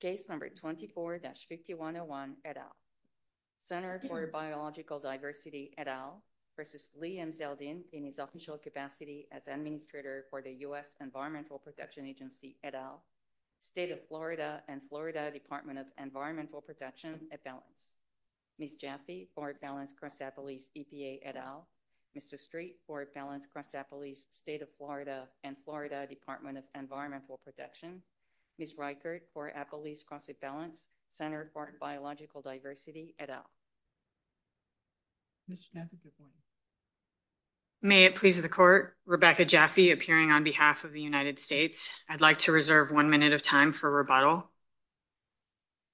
Case number 24-5101 et al. Center for Biological Diversity et al. v. Lee M. Zeldin in his official capacity as Administrator for the U.S. Environmental Protection Agency et al. State of Florida and Florida Department of Environmental Protection et al. Ms. Jaffee, Florida-Balanced Crestapolis EPA et al. Mr. Street, Florida-Balanced Crestapolis State of Florida and Florida Department of Environmental Protection. Ms. Reichert, Florida-Balanced Crestapolis Center for Biological Diversity et al. Ms. Jaffee, Florida. May it please the Court, Rebecca Jaffee appearing on behalf of the United States. I'd like to reserve one minute of time for rebuttal.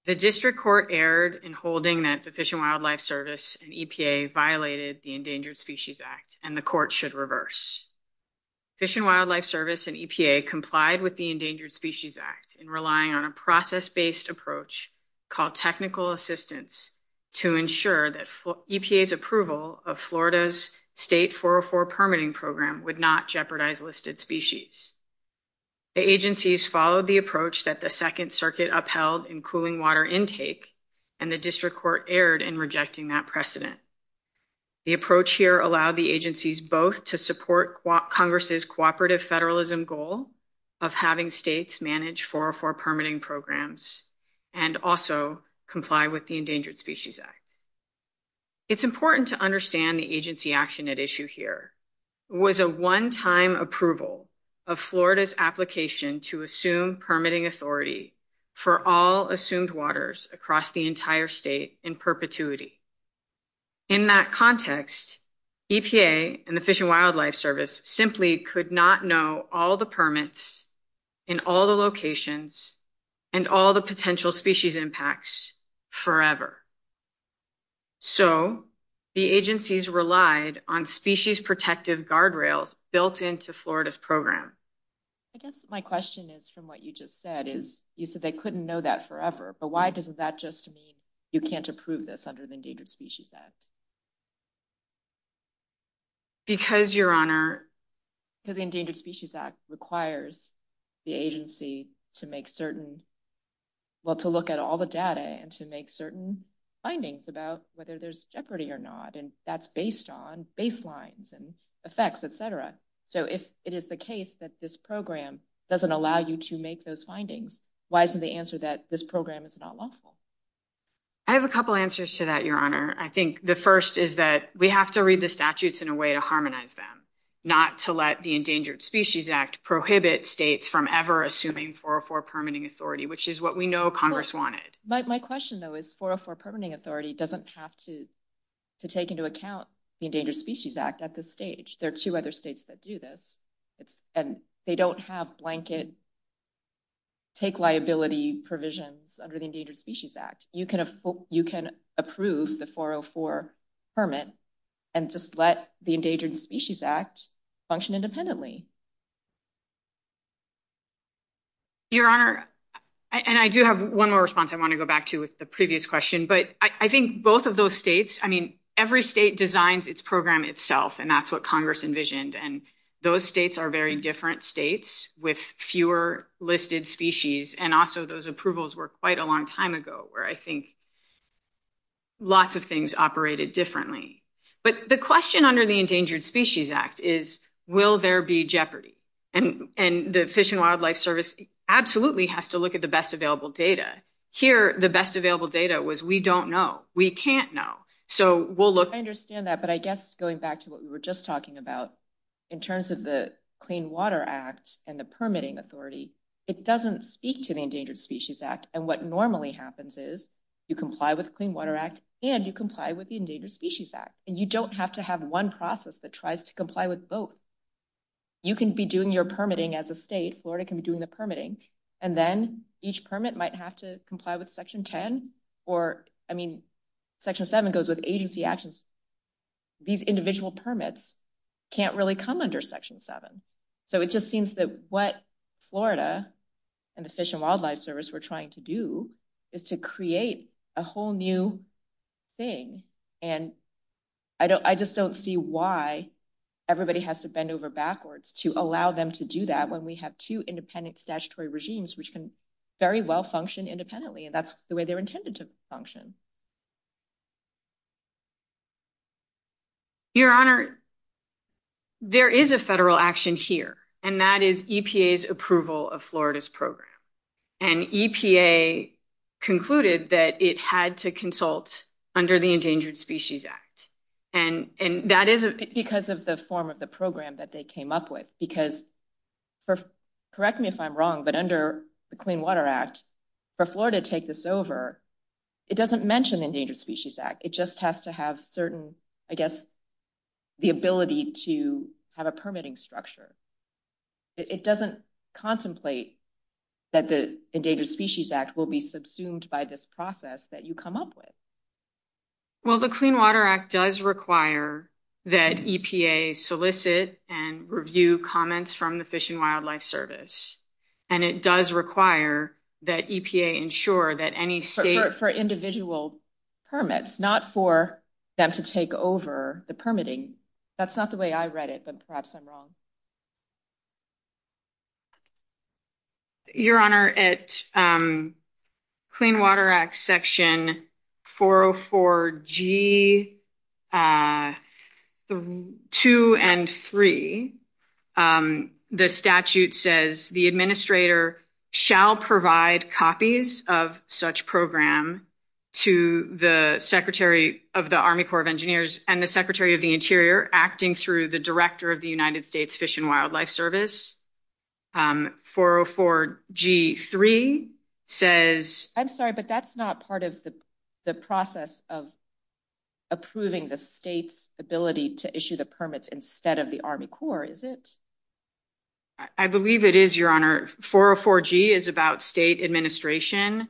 The District Court erred in holding that the Fish and Wildlife Service and EPA violated the Endangered Species Act and the Court should reverse. Fish and Wildlife Service and EPA complied with the Endangered Species Act in relying on a process-based approach called technical assistance to ensure that EPA's approval of Florida's State 404 permitting program would not jeopardize listed species. The agencies followed the approach that the Second Circuit upheld in cooling water intake and the District Court erred in rejecting that precedent. The approach here allowed the agencies both to support Congress's cooperative federalism goal of having states manage 404 permitting programs and also comply with the Endangered Species Act. It's important to understand the agency action at issue here was a one-time approval of Florida's application to assume the entire state in perpetuity. In that context, EPA and the Fish and Wildlife Service simply could not know all the permits in all the locations and all the potential species impacts forever. So the agencies relied on species protective guardrails built into Florida's program. I guess my question is from what you just said is you said they couldn't know that forever, but why doesn't that just mean you can't approve this under the Endangered Species Act? Because, Your Honor, the Endangered Species Act requires the agency to make certain, well, to look at all the data and to make certain findings about whether there's jeopardy or not and that's based on baselines and effects, etc. So if it is the case that this program doesn't allow you to make those findings, why isn't the answer that this program is not lawful? I have a couple answers to that, Your Honor. I think the first is that we have to read the statutes in a way to harmonize them, not to let the Endangered Species Act prohibit states from ever assuming 404 permitting authority, which is what we know Congress wanted. My question, though, is 404 permitting authority doesn't have to take into account the Endangered Species Act at this stage. There are two other states that do this and they don't have blanket take liability provisions under the Endangered Species Act. You can approve the 404 permit and just let the Endangered Species Act function independently. Your Honor, and I do have one more response I want to go back to with the previous question, but I think both of those states, I mean, every state designs its program itself and that's what Congress envisioned and those states are very different states with fewer listed species and also those approvals were quite a long time ago where I think lots of things operated differently. But the question under the Endangered Species Act is, will there be jeopardy? And the Fish and Wildlife Service absolutely has to look at the best available data. Here, the best available data was we don't know. We can't know. So we'll look- back to what we were just talking about. In terms of the Clean Water Act and the permitting authority, it doesn't speak to the Endangered Species Act. And what normally happens is you comply with Clean Water Act and you comply with the Endangered Species Act. And you don't have to have one process that tries to comply with both. You can be doing your permitting as a state, Florida can be doing the permitting, and then each permit might have to comply with Section 10 or, I mean, Section 7 goes with agency actions. These individual permits can't really come under Section 7. So it just seems that what Florida and the Fish and Wildlife Service were trying to do is to create a whole new thing. And I just don't see why everybody has to bend over backwards to allow them to do that when we have two independent statutory regimes which can very well function independently. That's the way they're intended to function. Your Honor, there is a federal action here, and that is EPA's approval of Florida's program. And EPA concluded that it had to consult under the Endangered Species Act. And that is because of the form of the program that they came up with. Because, correct me if I'm wrong, but under the Clean Water Act, for Florida to take this over, it doesn't mention the Endangered Species Act. It just has to have certain, I guess, the ability to have a permitting structure. It doesn't contemplate that the Endangered Species Act will be subsumed by this process that you come up with. Well, the Clean Water Act does require that EPA solicit and review comments from the Fish and Wildlife Service. And it does require that EPA ensure that any state... For individual permits, not for them to take over the permitting. That's not the way I read it, but perhaps I'm wrong. Your Honor, at Clean Water Act Section 404G2 and 3, the statute says, the administrator shall provide copies of such program to the Secretary of the Army Corps of Engineers and the Secretary of the Interior, acting through the Director of the United States Fish and Wildlife Service. 404G3 says... I'm sorry, but that's not part of the process of approving the state's ability to issue the permits instead of the Army Corps, is it? I believe it is, Your Honor. 404G is about state administration.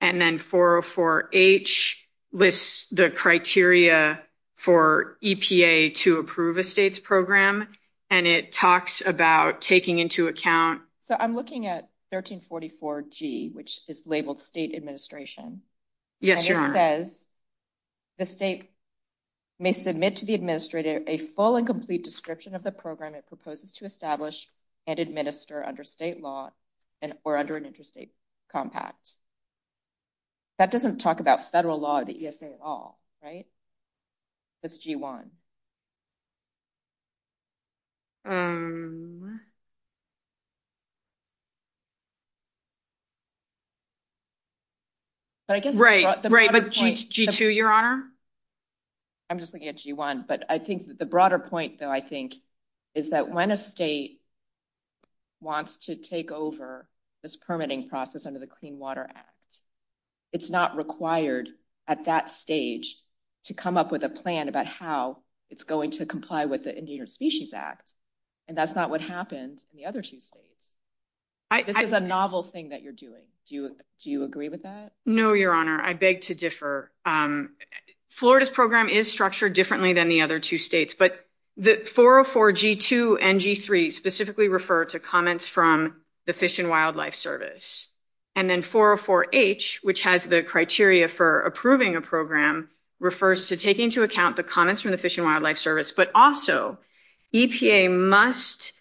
And then 404H lists the criteria for EPA to approve a state's program. And it talks about taking into account... So I'm looking at 1344G, which is labeled state administration. Yes, Your Honor. And it says, the state may submit to the administrator a full and complete description of the program it proposes to establish and administer under state law or under an interstate compact. That doesn't talk about federal law at all, right? That's G1. Right, but G2, Your Honor? I'm just looking at G1. But I think the broader point, though, I think is that when a state wants to take over this permitting process under the Clean Water Act, it's not required at that stage to come up with a plan about how it's going to comply with the Endangered Species Act. And that's not what happened in the other two states. This is a novel thing that you're doing. Do you agree with that? No, Your Honor. I beg to differ. Florida's program is structured differently than the other two states. But 404G2 and G3 specifically refer to comments from the Fish and Wildlife Service. And then 404H, which has the criteria for approving a program, refers to taking into account the comments from the Fish and Wildlife Service. But also, EPA must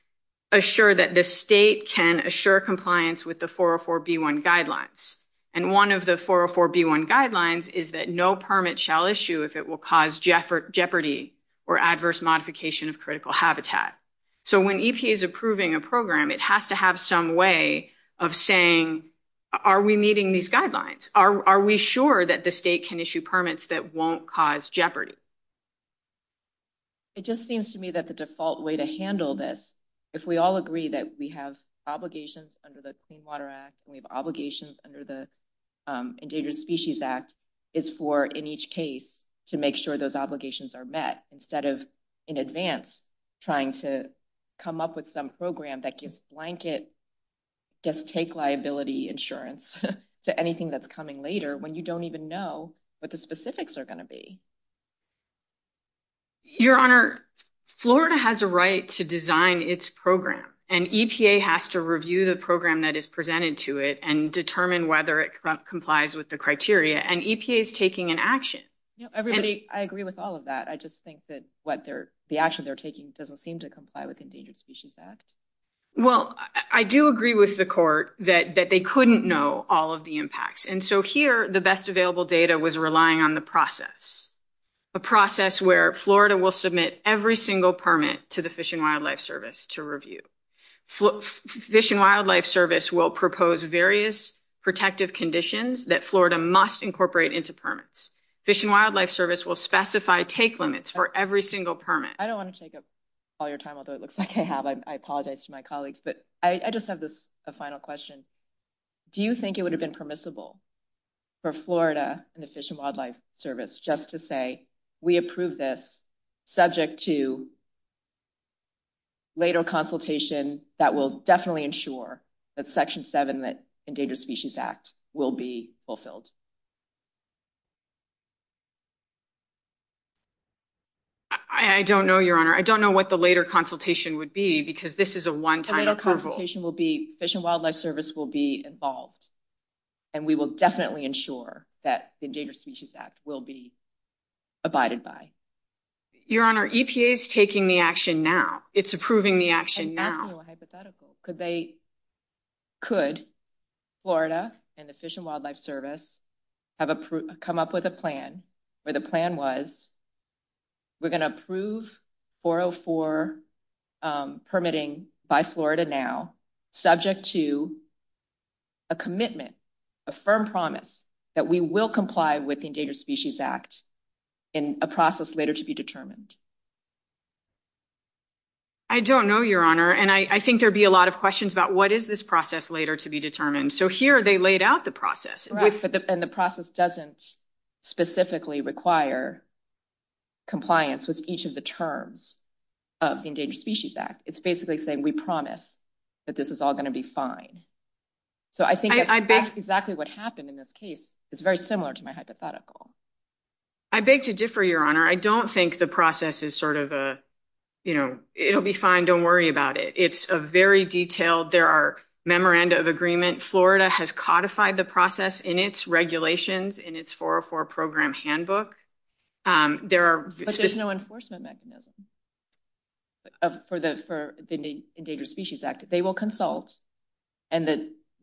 assure that the state can assure compliance with the 404B1 guidelines. And one of the 404B1 guidelines is that no permit shall issue if it will cause jeopardy or adverse modification of critical habitat. So when EPA is approving a program, it has to have some way of saying, are we meeting these guidelines? Are we sure that the state can issue permits that won't cause jeopardy? It just seems to me that the default way to handle this, if we all agree that we have obligations under the Clean Water Act, we have obligations under the Endangered Species Act, is for, in each case, to make sure those obligations are met instead of, in advance, trying to come up with some program that gives blanket, just take liability insurance to anything that's coming later when you don't even know what the specifics are going to be. Your Honor, Florida has a right to design its program. And EPA has to review the program that presented to it and determine whether it complies with the criteria. And EPA is taking an action. I agree with all of that. I just think that the action they're taking doesn't seem to comply with Endangered Species Act. Well, I do agree with the court that they couldn't know all of the impacts. And so here, the best available data was relying on the process. A process where Florida will submit every single permit to the Fish and Wildlife Service to review. Fish and Wildlife Service will propose various protective conditions that Florida must incorporate into permits. Fish and Wildlife Service will specify take limits for every single permit. I don't want to take up all your time, although it looks like I have. I apologize to my colleagues. But I just have this final question. Do you think it would have been permissible for Florida and the Fish and Wildlife Service just to say, we approve this subject to later consultation that will definitely ensure that Section 7 of the Endangered Species Act will be fulfilled? I don't know, Your Honor. I don't know what the later consultation would be, because this is a one-time approval. The later consultation will be, Fish and Wildlife Service will be involved. And we will definitely ensure that the Endangered Species Act will be abided by. Your Honor, EPA is taking the action now. It's approving the action now. And that's hypothetical. Could Florida and the Fish and Wildlife Service come up with a plan where the plan was, we're going to approve 404 permitting by Florida now subject to a commitment, a firm promise that we will comply with the Endangered Species Act in a process later to be determined? I don't know, Your Honor. And I think there'd be a lot of questions about, what is this process later to be determined? So here, they laid out the process. And the process doesn't specifically require compliance with each of the terms of the Endangered Species Act. It's basically saying, we promise that this is all going to be fine. So I think that's exactly what happened in this case. It's very similar to my hypothetical. I beg to differ, Your Honor. I don't think the process is sort of a, you know, it'll be fine. Don't worry about it. It's a very detailed, there are memoranda of agreement. Florida has codified the process in its regulations, in its 404 program handbook. There are... But there's no enforcement mechanism for the Endangered Species Act. They will consult. And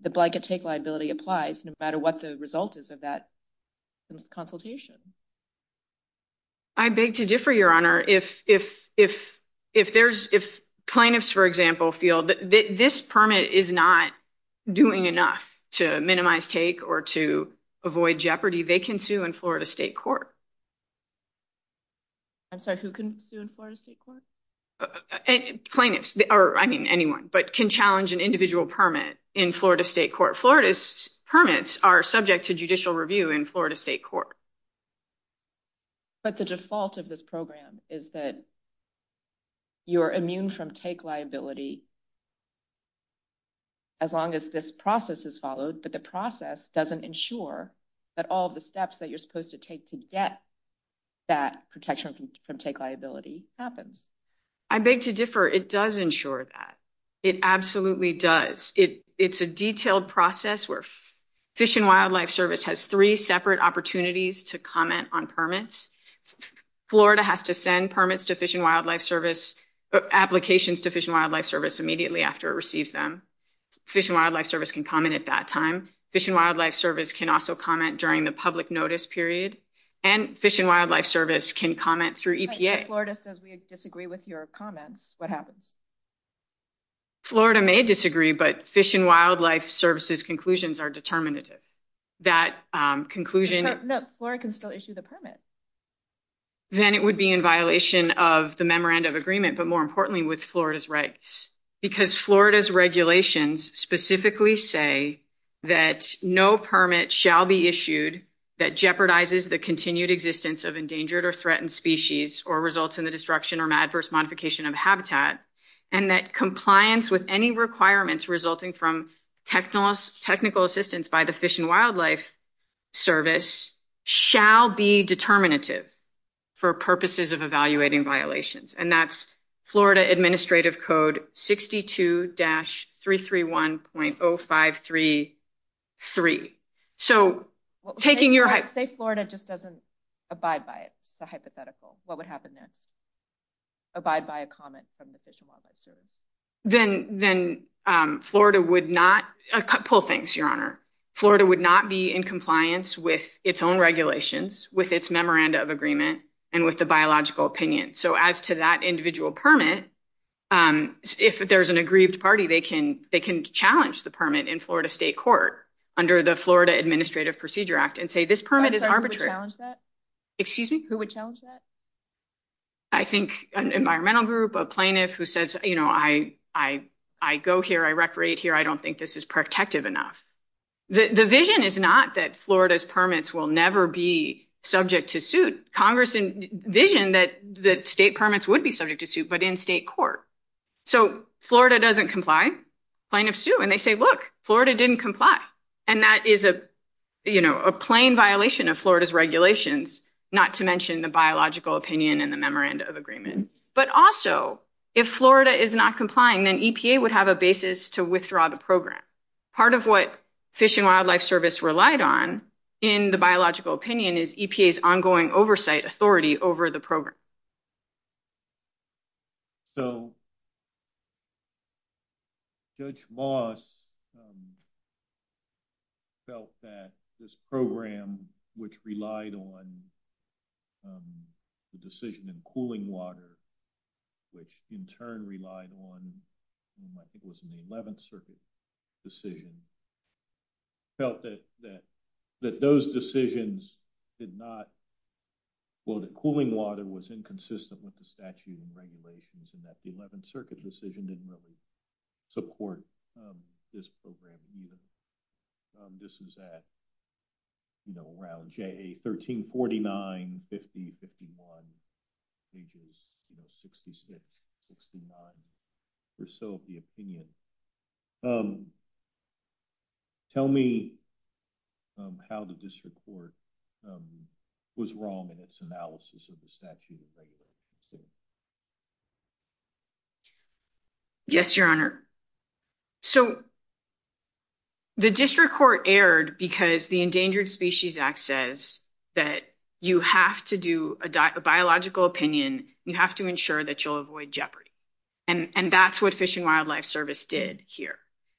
the blanket take liability applies no matter what the result is of that consultation. I beg to differ, Your Honor. If plaintiffs, for example, feel that this permit is not doing enough to minimize take or to avoid jeopardy, they can sue in Florida State Court. I'm sorry, who can sue in Florida State Court? Plaintiffs, or I mean anyone, but can challenge an individual permit in Florida State Court. Florida's permits are subject to judicial review in Florida State Court. But the default of this program is that you're immune from take liability as long as this process is followed. But the process doesn't ensure that all the steps that you're supposed to take to get that protection from take liability happen. I beg to differ. It does ensure that. It absolutely does. It's a detailed process where Fish and Wildlife Service has three separate opportunities to comment on permits. Florida has to send permits to Fish and Wildlife Service, applications to Fish and Wildlife Service immediately after it receives them. Fish and Wildlife Service can comment at that time. Fish and Wildlife Service can also comment during the public notice period. And Fish and Wildlife Service can comment through EPA. Florida says we disagree with your comments. What happens? Florida may disagree, but Fish and Wildlife Service's conclusions are determinative. That conclusion... No, Florida can still issue the permit. Then it would be in violation of the memorandum of agreement, but more importantly with Florida's rights. Because Florida's regulations specifically say that no permit shall be issued that jeopardizes the continued existence of endangered or threatened species or results in the destruction or adverse modification of habitat. And that compliance with any requirements resulting from technical assistance by the Fish and Wildlife Service shall be determinative for purposes of evaluating violations. And that's Florida Administrative Code 62-331.0533. So taking your... Say Florida just doesn't abide by it. It's a hypothetical. What would happen then? Abide by a comment from the Fish and Wildlife Service. Then Florida would not... A couple of things, Your Honor. Florida would not be in compliance with its own regulations, with its memoranda of agreement, and with the biological opinion. So as to that individual permit, if there's an aggrieved party, they can challenge the permit in Florida State Court under the Florida Administrative Procedure Act and say, this permit is arbitrary. Who would challenge that? Excuse me? Who would challenge that? I think an environmental group, a plaintiff who says, I go here, I reparate here. I don't think this is protective enough. The vision is not that Florida's permits will never be subject to suit. Congress envisioned that the state permits would be subject to suit, but in state court. So Florida doesn't comply. Plaintiff sue. And they say, look, Florida didn't comply. And that is a plain violation of Florida's regulations, not to mention the biological opinion and the memoranda of agreement. But also, if Florida is not complying, then EPA would have a basis to withdraw the program. Part of what Fish and Wildlife Service relied on in the biological opinion is EPA's ongoing oversight authority over the program. So Judge Moss felt that this program, which relied on the decision in cooling water, which in turn relied on, I think it was in the 11th Circuit decision, felt that those decisions did not, well, the cooling water was inconsistent with the statute and regulations and that the 11th Circuit decision didn't really support this program either. This is at, you know, around 1349, 50, 51, pages 66, 69 or so of the opinion. Tell me how the district court was wrong in its analysis of the statute. Yes, Your Honor. So the district court erred because the Endangered Species Act says that you have to do a biological opinion, you have to ensure that you'll avoid jeopardy. And that's what Fish and Wildlife Service did here.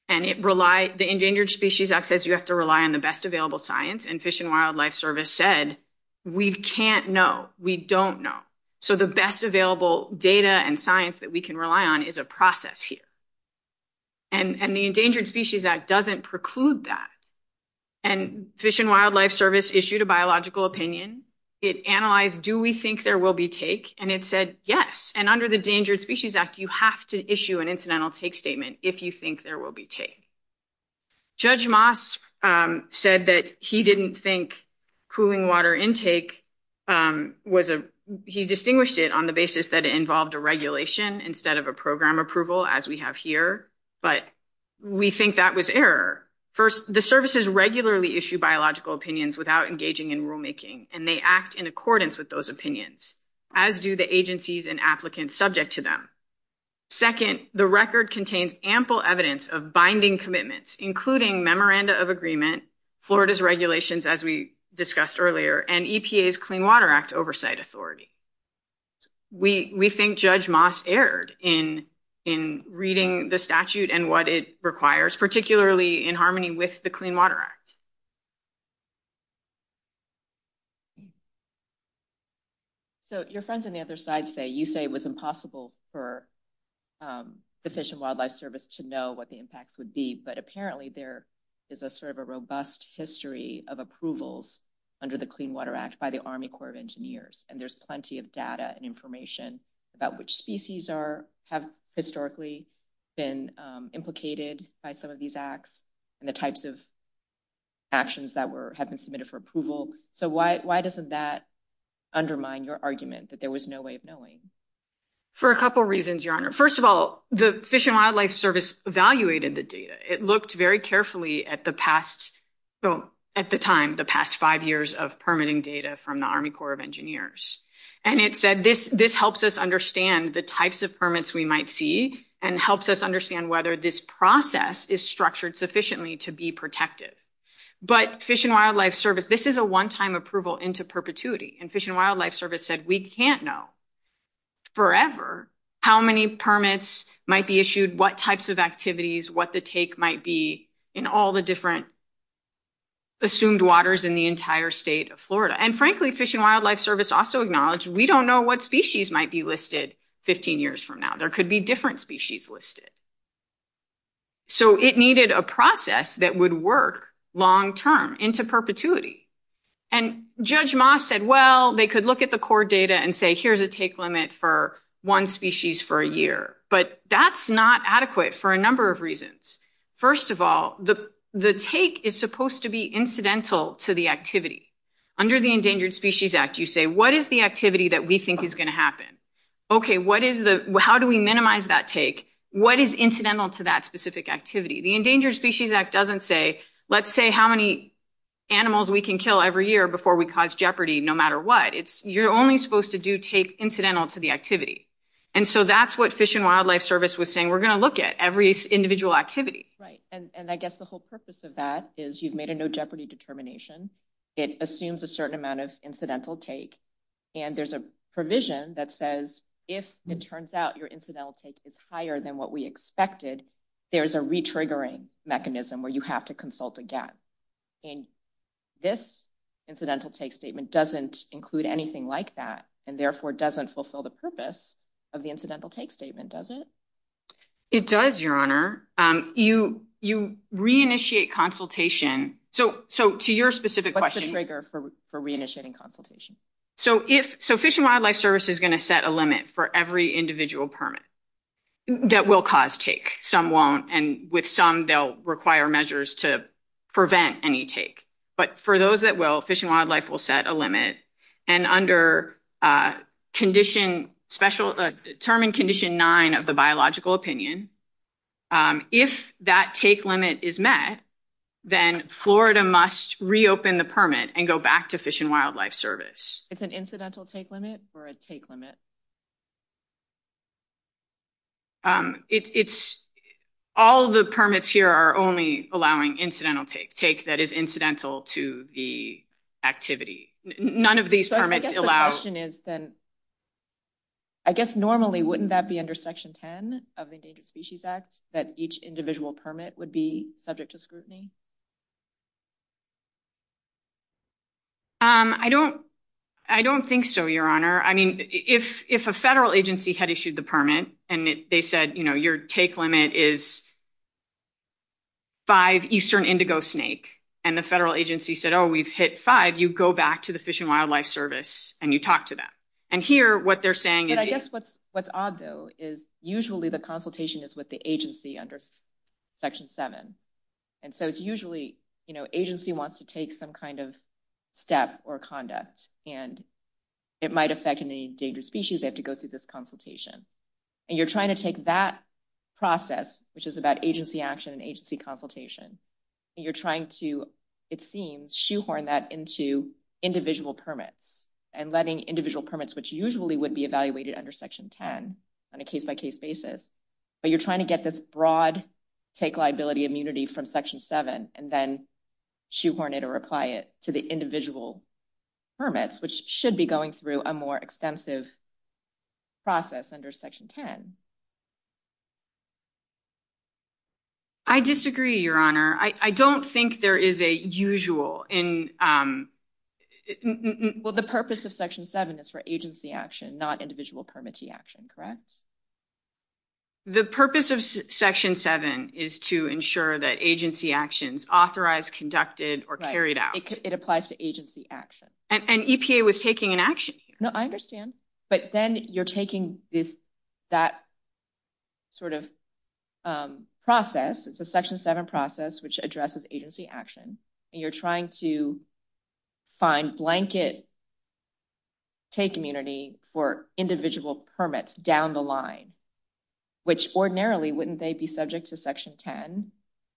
And the Endangered Species Act says you have to rely on the best available science. And Fish and Wildlife Service said, we can't know, we don't know. So the best available data and science that we can rely on is a process here. And the Endangered Species Act doesn't preclude that. And Fish and Wildlife Service issued a biological opinion. It analyzed, do we think there will be take? And it said, yes. And under the Endangered Species Act, you have to issue an incidental take statement if you think there will be take. Judge Mosk said that he didn't think cooling water intake was a, he distinguished it on the basis that it involved a regulation instead of a program approval, as we have here. But we think that was error. First, the services regularly issue biological opinions without engaging in rulemaking. And they act in accordance with those opinions, as do the agencies and applicants subject to them. Second, the record contains ample evidence of binding commitments, including memoranda of agreement, Florida's regulations, as we discussed in reading the statute and what it requires, particularly in harmony with the Clean Water Act. So your friends on the other side say, you say it was impossible for the Fish and Wildlife Service to know what the impact would be. But apparently there is a sort of a robust history of approvals under the Clean Water Act by the Army Corps of Engineers. And there's plenty of data and information about which species are, have historically been implicated by some of these acts and the types of actions that were, have been submitted for approval. So why doesn't that undermine your argument that there was no way of knowing? For a couple reasons, Your Honor. First of all, the Fish and Wildlife Service evaluated the data. It looked very carefully at the past, so at the time, the past five years of permitting data from the Army Corps of Engineers. And it said this, this helps us understand the types of permits we might see and helps us understand whether this process is structured sufficiently to be protective. But Fish and Wildlife Service, this is a one-time approval into perpetuity. And Fish and Wildlife Service said we can't know forever how many permits might be issued, what types of activities, what the take might be in all the different assumed waters in the entire state of Florida. And frankly, Fish and Wildlife Service also acknowledged we don't know what species might be listed 15 years from now. There could be different species listed. So it needed a process that would work long-term into perpetuity. And Judge Moss said, well, they could look at the core data and say, here's a take limit for one species for a year. But that's not adequate for a number of reasons. First of all, the take is supposed to be incidental to the activity. Under the Endangered Species Act, you say, what is the activity that we think is going to happen? Okay, what is the, how do we minimize that take? What is incidental to that specific activity? The Endangered Species Act doesn't say, let's say how many animals we can kill every year before we cause jeopardy, no matter what. You're only supposed to do take incidental to the And so that's what Fish and Wildlife Service was saying, we're going to look at every individual activity. Right. And I guess the whole purpose of that is you've made a no jeopardy determination. It assumes a certain amount of incidental take. And there's a provision that says, if it turns out your incidental take is higher than what we expected, there's a re-triggering mechanism where you have to consult again. And this incidental take doesn't include anything like that, and therefore doesn't fulfill the purpose of the incidental take statement, does it? It does, Your Honor. You re-initiate consultation. So to your specific question- What's the trigger for re-initiating consultation? So Fish and Wildlife Service is going to set a limit for every individual permit that will cause take. Some won't, and with some, they'll require measures to prevent any take. But for those that will, Fish and Wildlife will set a limit. And under Term and Condition 9 of the Biological Opinion, if that take limit is met, then Florida must reopen the permit and go back to Fish and Wildlife Service. It's an incidental take limit or a take limit? All the permits here are only allowing incidental take, take that is incidental to the activity. None of these permits allow- So I guess the question is, then, I guess normally, wouldn't that be under Section 10 of the Endangered Species Act, that each individual permit would be subject to scrutiny? I don't think so, Your Honor. I mean, if a federal agency had issued the permit and they said, you know, your take limit is five eastern indigo snake, and the federal agency said, oh, we've hit five, you go back to the Fish and Wildlife Service and you talk to them. And here, what they're saying is- And I guess what's odd, though, is usually the consultation is with the agency under Section 7. And so, usually, agency wants to take some kind of step or conduct, and it might affect any endangered species. They have to go through this consultation. And you're trying to take that process, which is about agency action and agency consultation, and you're trying to, it seems, shoehorn that into individual permits and letting individual permits, which usually would be evaluated under Section 10 on a case-by-case basis. But you're trying to get this broad take liability immunity from Section 7 and then shoehorn it or apply it to the individual permits, which should be going through a more extensive process under Section 10. I disagree, Your Honor. I don't think there is a usual in- Well, the purpose of Section 7 is for agency action, not individual permittee action, correct? The purpose of Section 7 is to ensure that agency action is authorized, conducted, or carried out. It applies to agency action. And EPA was taking an action here. No, I understand. But then you're taking that sort of process, it's a Section 7 process, which addresses agency action, and you're trying to find blanket take immunity for individual permits down the line. Ordinarily, wouldn't they be subject to Section 10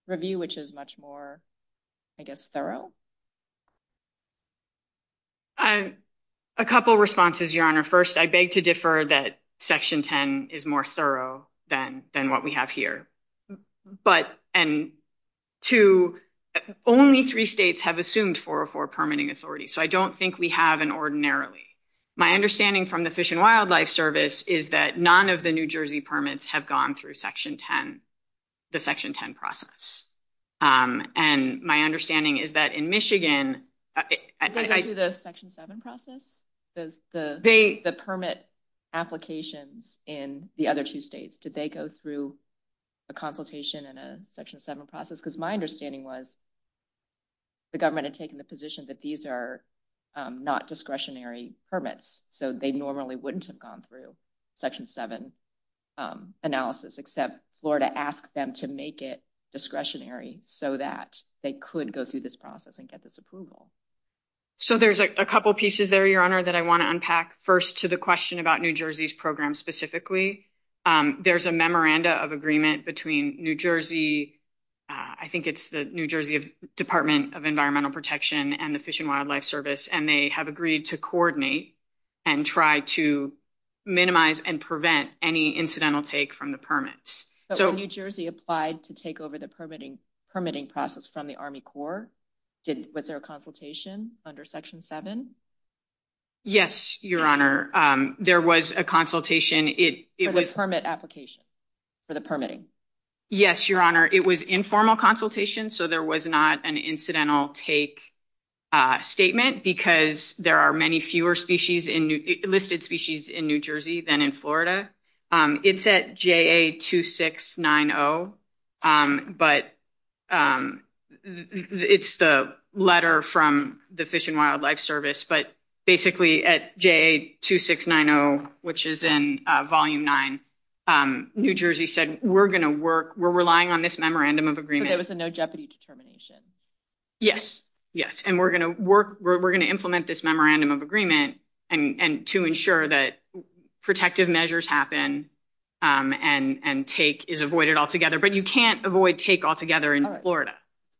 review, which is much more, I guess, thorough? A couple of responses, Your Honor. First, I beg to differ that Section 10 is more thorough than what we have here. But, and two, only three states have assumed 404 permitting authority, so I don't think we have an ordinarily. My understanding from the Fish and Wildlife Service is that none of the New Jersey permits have gone through Section 10, the Section 10 process. And my understanding is that in Michigan- Did they go through the Section 7 process? The permit applications in the other two states, did they go through a consultation and a Section 7 process? Because my understanding was the government had taken the position that these are not discretionary permits, so they normally wouldn't have gone through Section 7 analysis, except Florida asked them to make it discretionary so that they could go through this process and get this approval. So there's a couple pieces there, Your Honor, that I want to unpack. First, to the question about New Jersey's program specifically. There's a memoranda of agreement between New Jersey- I think it's the New Jersey Department of Environmental Protection and the Fish and Wildlife Service, and try to minimize and prevent any incidental take from the permits. But when New Jersey applied to take over the permitting process from the Army Corps, was there a consultation under Section 7? Yes, Your Honor. There was a consultation. For the permit application? For the permitting? Yes, Your Honor. It was informal consultation, so there was not an incidental take statement because there are many fewer listed species in New Jersey than in Florida. It's at JA2690, but it's the letter from the Fish and Wildlife Service, but basically at JA2690, which is in Volume 9, New Jersey said, we're going to work, we're relying on this memorandum of agreement. There was a no jeopardy determination? Yes, yes. And we're going to work, we're going to implement this memorandum of agreement to ensure that protective measures happen and take is avoided altogether. But you can't avoid take altogether in Florida.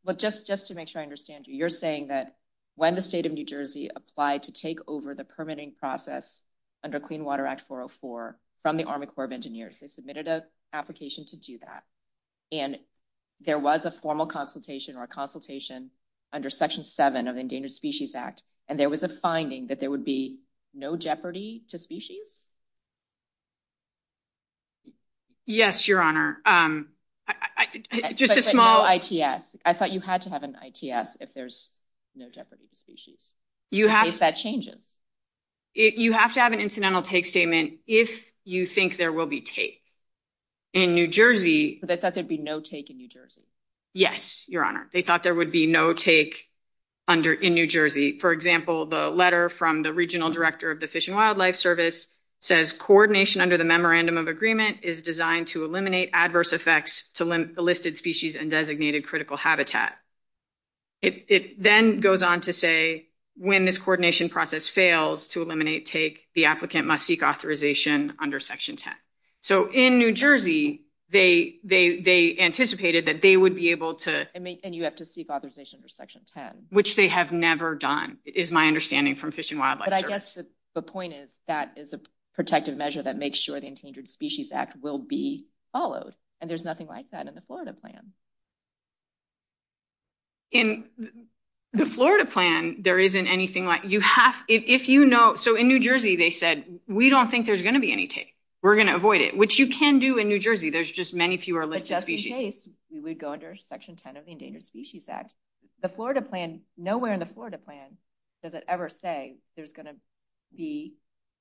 But just to make sure I understand you, you're saying that when the state of New Jersey applied to take over the permitting process under Clean Water Act 404 from the Army Corps of Engineers, they submitted an application to do that. And there was a formal consultation or a consultation under Section 7 of Endangered Species Act, and there was a finding that there would be no jeopardy to species? Yes, Your Honor. I thought you had to have an ITS if there's no jeopardy to species. You have to have an incidental take statement if you think there will be take. In New Jersey... They thought there'd be no take in New Jersey? Yes, Your Honor. They thought there would be no take in New Jersey. For example, the letter from the regional director of the Fish and Wildlife Service says, coordination under the memorandum of agreement is designed to eliminate adverse effects to listed species and designated critical habitat. It then goes on to say, when this coordination process fails to eliminate take, the applicant must seek authorization under Section 10. So in New Jersey, they anticipated that they would be able to... And you have to seek authorization under Section 10. Which they have never done, is my understanding from Fish and Wildlife Service. But I guess the point is, that is a protective measure that makes sure the Endangered Species Act will be followed. And there's nothing like that in the Florida plan. In the Florida plan, there isn't anything like... So in New Jersey, they said, we don't think there's going to be any take. We're going to avoid it, which you can do in New Jersey. There's just many fewer listed species. But just in case, we would go under Section 10 of the Endangered Species Act. The Florida plan, nowhere in the Florida plan does it ever say there's going to be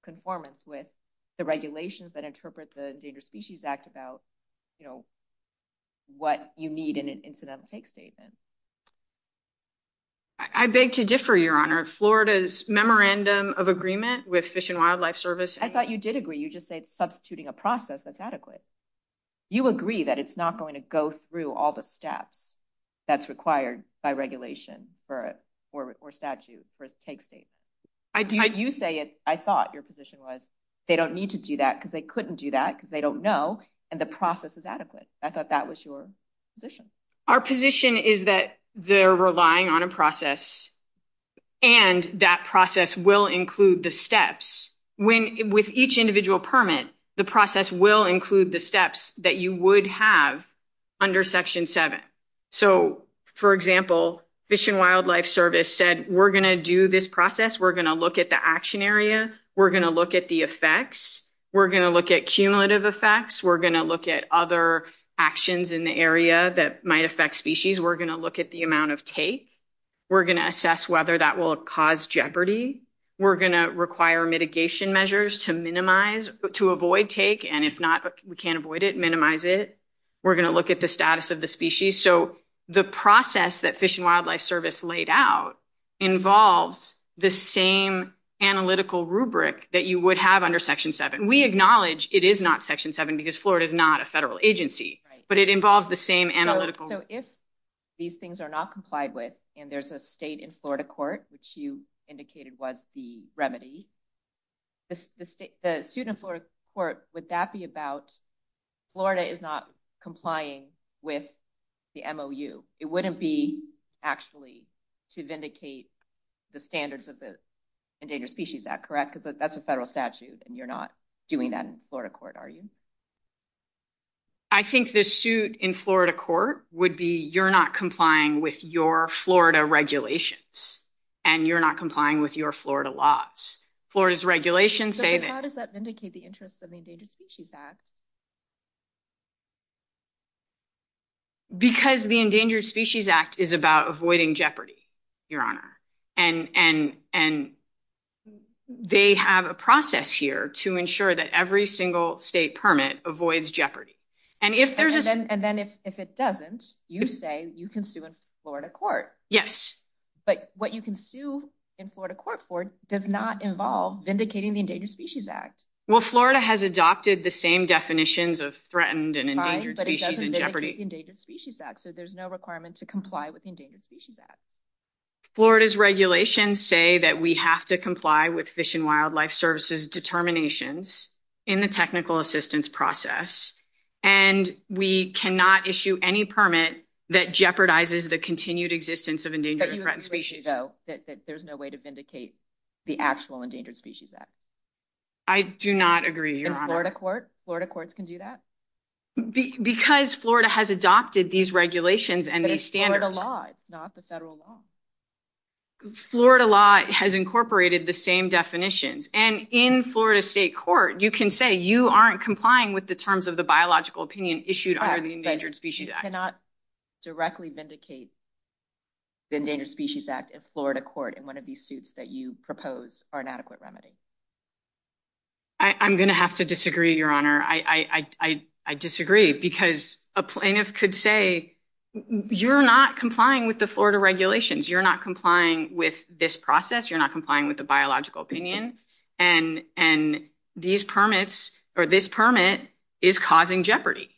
conformance with the regulations that interpret the Endangered Species Act about what you need in an incidental take statement. I beg to differ, Your Honor. Florida's memorandum of agreement with Fish and Wildlife Service... I thought you did agree. You just said, substituting a process that's adequate. You agree that it's not going to go through all the steps that's required by regulation or statute for a take state. You say it. I thought your position was, they don't need to do that because they couldn't do that because they don't know. And the process is adequate. I thought that was your position. Our position is that they're relying on a process. And that process will include the steps when with each individual permit, the process will include the steps that you would have under Section 7. So for example, Fish and Wildlife Service said, we're going to do this process. We're going to look at the action area. We're going to look at the effects. We're going to look at cumulative effects. We're going to look at other actions in the area that might affect species. We're going to look at the amount of take. We're going to assess whether that will cause jeopardy. We're going to require mitigation measures to minimize, to avoid take. And if not, we can't avoid it, minimize it. We're going to look at the status of the species. So the process that Fish and Wildlife Service laid out involves the same analytical rubric that you would have under Section 7. We acknowledge it is not Section 7 because Florida is not a federal agency, but it involves the same analytical. So if these things are not complied with, and there's a state in Florida court, which you indicated was the remedy, the suit in Florida court, would that be about Florida is not complying with the MOU? It wouldn't be actually to vindicate the standards of the Endangered Species Act, correct? Because that's a federal statute and you're not doing that in Florida court, are you? I think the suit in Florida court would be you're not complying with your Florida regulations and you're not complying with your Florida laws. Florida's regulations say that. But how does that vindicate the interests of the Endangered Species Act? Because the Endangered Species Act is about avoiding jeopardy, and they have a process here to ensure that every single state permit avoids jeopardy. And then if it doesn't, you say you can sue in Florida court. But what you can sue in Florida court for does not involve vindicating the Endangered Species Act. Well, Florida has adopted the same definitions of threatened and endangered species and jeopardy. So there's no to comply with the Endangered Species Act. Florida's regulations say that we have to comply with Fish and Wildlife Service's determinations in the technical assistance process. And we cannot issue any permit that jeopardizes the continued existence of endangered threatened species. There's no way to vindicate the actual Endangered Species Act. I do not agree. Florida courts can do that? Because Florida has adopted these regulations and the standards. Florida law has incorporated the same definitions. And in Florida state court, you can say you aren't complying with the terms of the biological opinion issued under the Endangered Species Act. You cannot directly vindicate the Endangered Species Act in Florida court in one of these suits that you propose are an adequate remedy. I'm going to have to disagree, Your Honor. I disagree because a plaintiff could say, you're not complying with the Florida regulations. You're not complying with this process. You're not complying with the biological opinion. And these permits or this permit is causing jeopardy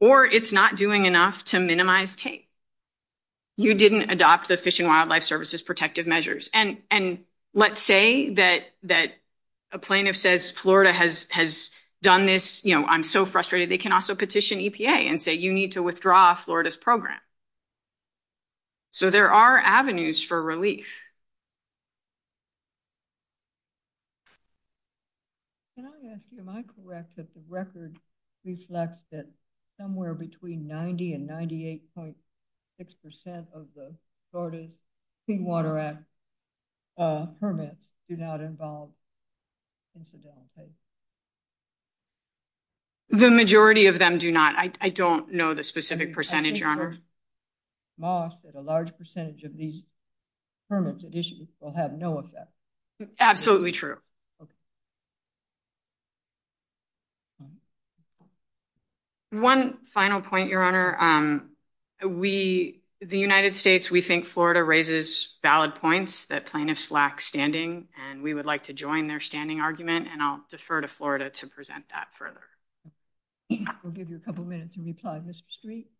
or it's not doing enough to minimize case. You didn't adopt the Fish and Wildlife Service's measures. And let's say that a plaintiff says Florida has done this. I'm so frustrated. They can also petition EPA and say you need to withdraw Florida's program. So there are avenues for relief. Can I ask you, am I correct that the record reflects that somewhere between 90 and 98.6% of the Florida's Clean Water Act permits do not involve incidental case? The majority of them do not. I don't know the specific percentage, Your Honor. A large percentage of these permits issued will have no effect. Absolutely true. Okay. One final point, Your Honor. The United States, we think Florida raises valid points that plaintiffs lack standing. And we would like to join their standing argument and I'll defer to Florida to present that further. We'll give you a couple minutes to reply, Mr. Street.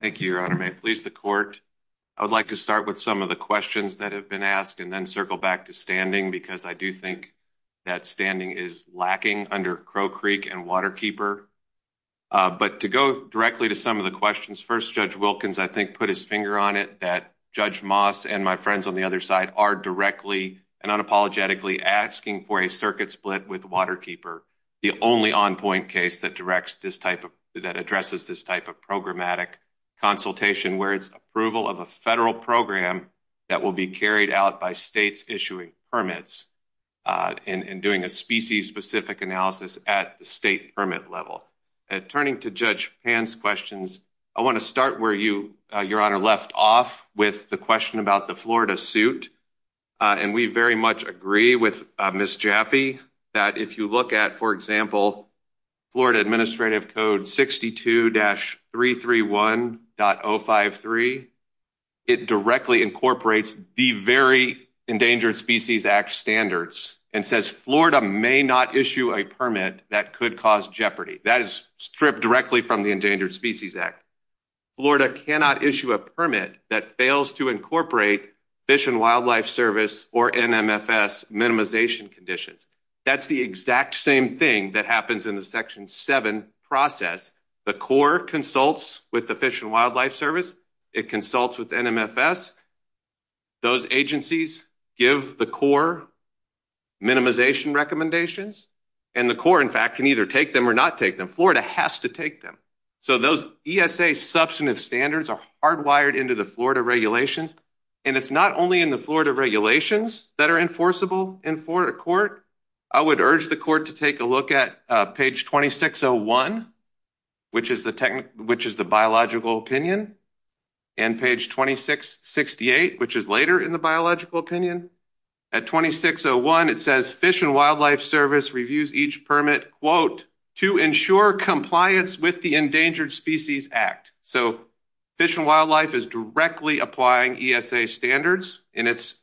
Thank you, Your Honor. May it please the court. I would like to start with some of the questions that have been asked and then circle back to standing because I do think that standing is lacking under Crow Creek and Waterkeeper. But to go directly to some of the questions. First, Judge Wilkins, I think, put his finger on it that Judge Moss and my friends on the other side are directly and unapologetically asking for a circuit split with Waterkeeper, the only on-point case that addresses this type of programmatic consultation where it's approval of a federal program that will be carried out by states issuing permits and doing a species-specific analysis at the state permit level. And turning to Judge Pan's questions, I want to start where you, Your Honor, left off with the question about the Florida suit. And we very much agree with Ms. Jaffe that if you look at, for example, Florida Administrative Code 62-331.053, it directly incorporates the very Endangered Species Act standards and says Florida may not issue a permit that could cause jeopardy. That is stripped directly from the Endangered Species Act. Florida cannot issue a permit that fails to incorporate Fish and Wildlife Service or NMFS minimization conditions. That's the exact same thing that happens in the Section 7 process. The Corps consults with the Fish and Wildlife Service. It consults with NMFS. Those agencies give the Corps minimization recommendations. And the Corps, in fact, can either take them or not take them. Florida has to take them. So those ESA substantive standards are hardwired into the regulations. And it's not only in the Florida regulations that are enforceable in Florida court. I would urge the court to take a look at page 2601, which is the biological opinion, and page 2668, which is later in the biological opinion. At 2601, it says Fish and Wildlife Service reviews each permit, quote, to ensure compliance with the Endangered Species Act. So Fish and Wildlife is directly applying ESA standards in its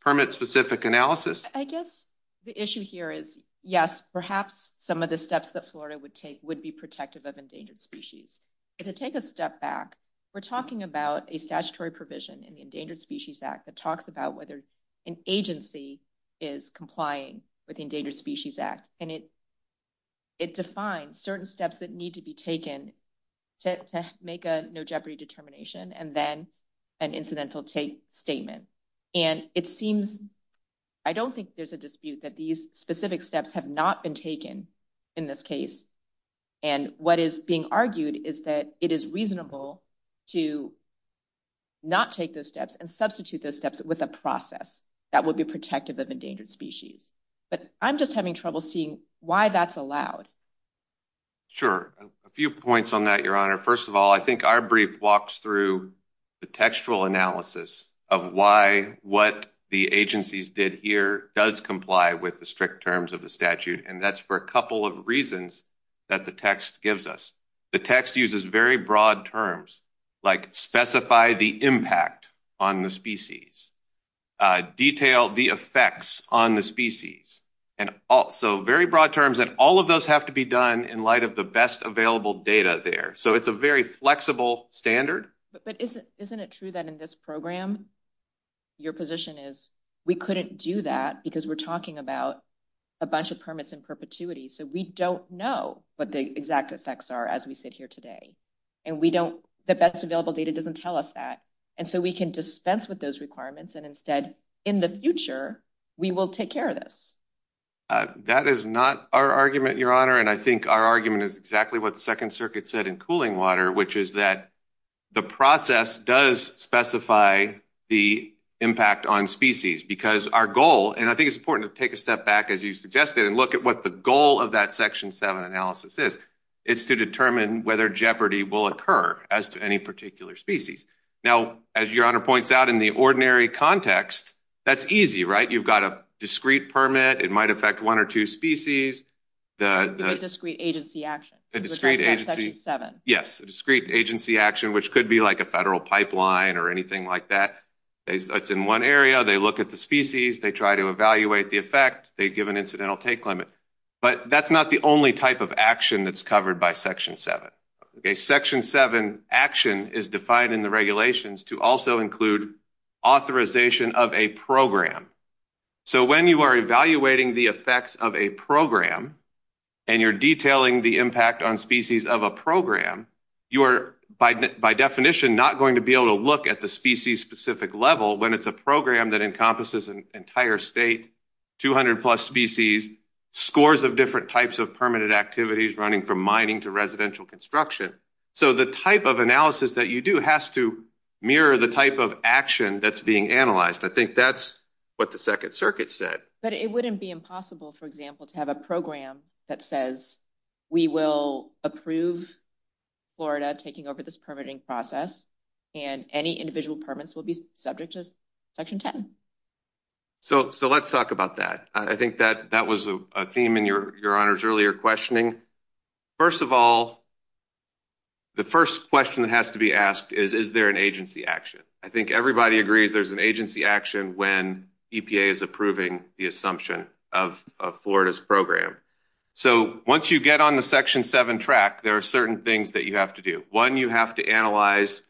permit-specific analysis? I guess the issue here is, yes, perhaps some of the steps that Florida would take would be protective of endangered species. And to take a step back, we're talking about a statutory provision in the Endangered Species Act that talks about whether an agency is complying with the make a no-jeopardy determination and then an incidental statement. And it seems, I don't think there's a dispute that these specific steps have not been taken in this case. And what is being argued is that it is reasonable to not take those steps and substitute those steps with a process that would be protective of endangered species. But I'm just having trouble seeing why that's allowed. Sure. A few points on that, Your Honor. First of all, I think our brief walks through the textual analysis of why what the agencies did here does comply with the strict terms of the statute. And that's for a couple of reasons that the text gives us. The text uses very broad terms like specify the impact on the species, detail the effects on the species, and also very broad terms. And all of those have to be done in light of the best available data there. So it's a very flexible standard. But isn't it true that in this program, your position is we couldn't do that because we're talking about a bunch of permits in So we don't know what the exact effects are as we sit here today. And we don't, the best available data doesn't tell us that. And so we can dispense with those requirements. And instead, in the future, we will take care of this. That is not our argument, Your Honor. And I think our argument is exactly what the Second Circuit said in cooling water, which is that the process does specify the impact on species. Because our goal, and I think it's important to step back, as you suggested, and look at what the goal of that Section 7 analysis is, is to determine whether jeopardy will occur as to any particular species. Now, as Your Honor points out, in the ordinary context, that's easy, right? You've got a discrete permit, it might affect one or two species. The discrete agency action. Yes, a discrete agency action, which could be like a federal pipeline or anything like that. It's in one area, they look at the species, they try to evaluate the effect, they give an incidental take limit. But that's not the only type of action that's covered by Section 7. Section 7 action is defined in the regulations to also include authorization of a program. So when you are evaluating the effects of a program, and you're detailing the impact on species of a program, you are, by definition, not going to be able to look at the species-specific level when it's a program that encompasses an entire state, 200 plus species, scores of different types of permanent activities, running from mining to residential construction. So the type of analysis that you do has to mirror the type of action that's being analyzed. I think that's what the Second Circuit said. But it wouldn't be impossible, for example, to have a program that says, we will approve Florida taking over this permitting process, and any individual permits will be subject to Section 10. So let's talk about that. I think that was a theme in Your Honor's earlier questioning. First of all, the first question that has to be asked is, is there an agency action? I think So once you get on the Section 7 track, there are certain things that you have to do. One, you have to analyze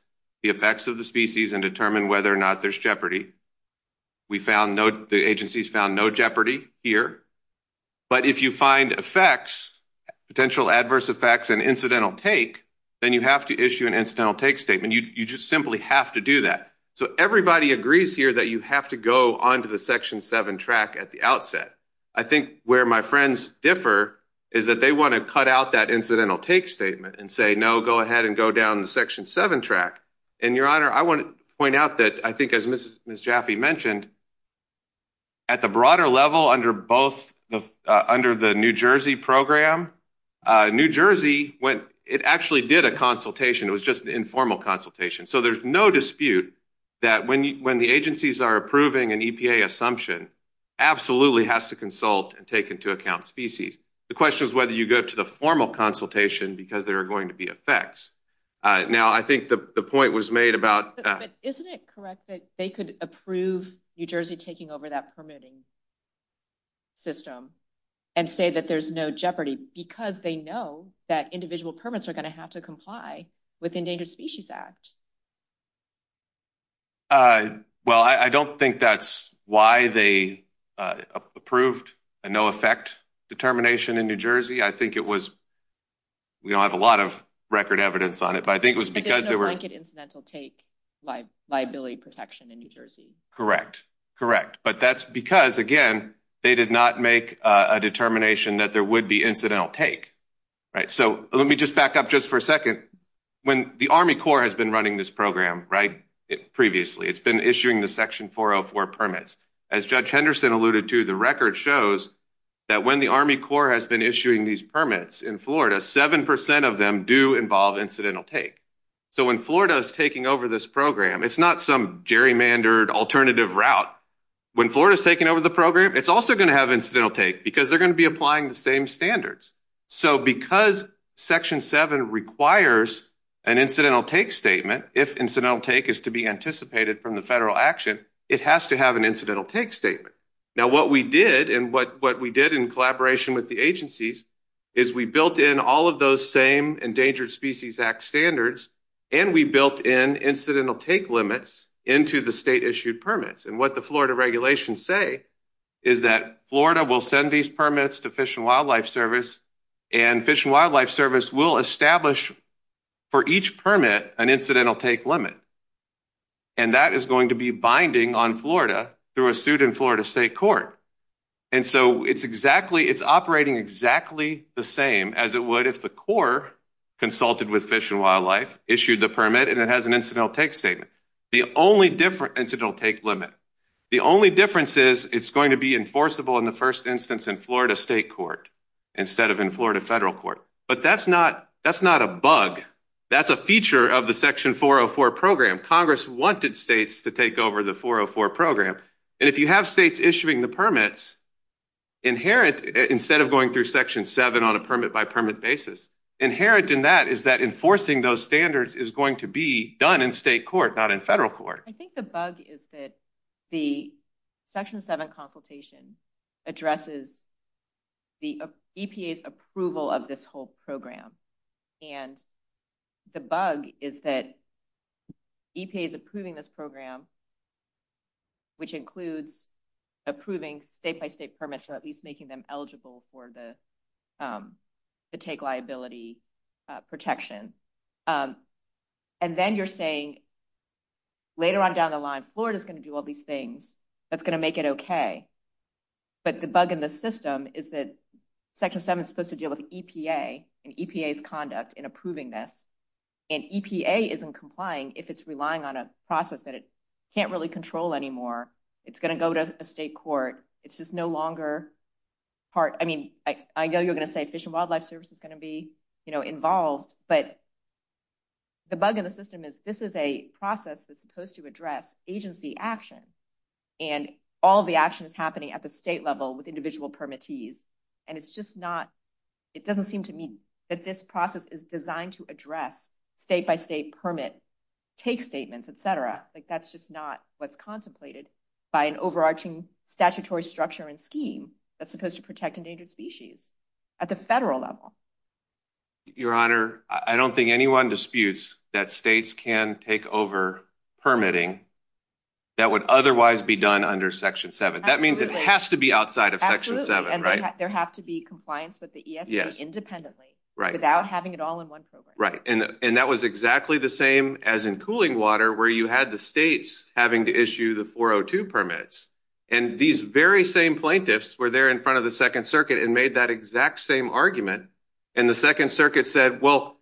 the effects of the species and determine whether or not there's jeopardy. We found no, the agencies found no jeopardy here. But if you find effects, potential adverse effects and incidental take, then you have to issue an incidental take statement. You just simply have to do that. So everybody agrees here that you have to go onto the Section 7 track at the outset. I think where my friends differ is that they want to cut out that incidental take statement and say, no, go ahead and go down the Section 7 track. And Your Honor, I want to point out that I think, as Ms. Jaffe mentioned, at the broader level under both, under the New Jersey program, New Jersey went, it actually did a consultation. It was just an informal consultation. So there's no dispute that when the agencies are approving an EPA assumption, absolutely has to consult and take into account species. The question is whether you go to the formal consultation because there are going to be effects. Now, I think the point was made about Isn't it correct that they could approve New Jersey taking over that permitting system and say that there's no jeopardy because they know that individual permits are going to have to comply with Endangered Species Act? Well, I don't think that's why they approved a no effect determination in New Jersey. I think it was, we don't have a lot of record evidence on it, but I think it was because there were Incidental take liability protection in New Jersey. Correct. Correct. But that's because, again, they did not make a determination that there would be incidental take. Right. So let me just back up just for a second. When the Army Corps has been running this program, right, previously, it's been issuing the Section 404 permits. As Judge Henderson alluded to, the record shows that when the Army Corps has been issuing these permits in Florida, 7% of them do involve incidental take. So when Florida is taking over this program, it's not some gerrymandered alternative route. When Florida is taking over the program, it's also going to have incidental take because they're going to be applying the same standards. So because Section 7 requires an incidental take statement, if incidental take is to be anticipated from the federal action, it has to have an incidental take statement. Now what we did, and what we did in collaboration with the agencies, is we built in all of those same Endangered Species Act standards, and we built in incidental take limits into the state issued permits. And what the Florida regulations say is that Florida will send these permits to Fish and Wildlife Service, and Fish and Wildlife Service will establish for each permit an incidental take limit. And that is going to be binding on Florida through a suit in Florida state court. And so it's exactly, it's operating exactly the same as it would if the Corps consulted with Fish and Wildlife, issued the permit, and it has an incidental take statement. The only difference, incidental take limit, the only difference is it's going to be enforceable in the first instance in Florida state court, instead of in Florida federal court. But that's not, that's not a bug. That's a feature of the Section 404 program. Congress wanted states to take over the 404 program. And if you have states issuing the permits, inherent, instead of going through Section 7 on a permit by permit basis, inherent in that is that enforcing those standards is going to be done in state court, not in federal court. I think the bug is that the Section 7 consultation addresses the EPA's approval of this whole program. And the bug is that EPA's approving this program, which includes approving state-by-state permits, or at least making them eligible for the take liability protection. And then you're saying later on down the line, Florida's going to do all these things that's going to make it okay. But the bug in the system is that Section 7 is supposed to deal with EPA and EPA's conduct in approving this. And EPA isn't complying if it's relying on a process that it can't really control anymore. It's going to go to a state court. It's just no longer part, I mean, I know you're going to say Fish and Wildlife Service is going to be, you know, involved, but the bug in the system is this is a process that's supposed to address agency action. And all the action is happening at the state level with individual permittees. And it's just not, it doesn't seem to me that this process is designed to address state-by-state permit case statements, etc. Like that's just not what's contemplated by an overarching statutory structure and scheme that's supposed to protect endangered species at the federal level. Your Honor, I don't think anyone disputes that states can take over permitting that would otherwise be done under Section 7. That means it has to be outside of Section 7, right? Absolutely. And there have to be compliance with the ESA independently. Right. Without having it all in one program. Right. And that was exactly the same as in cooling water where you had the states having to issue the 402 permits. And these very same plaintiffs were there in front of the Second Circuit and made that exact same argument. And the Second Circuit said, well,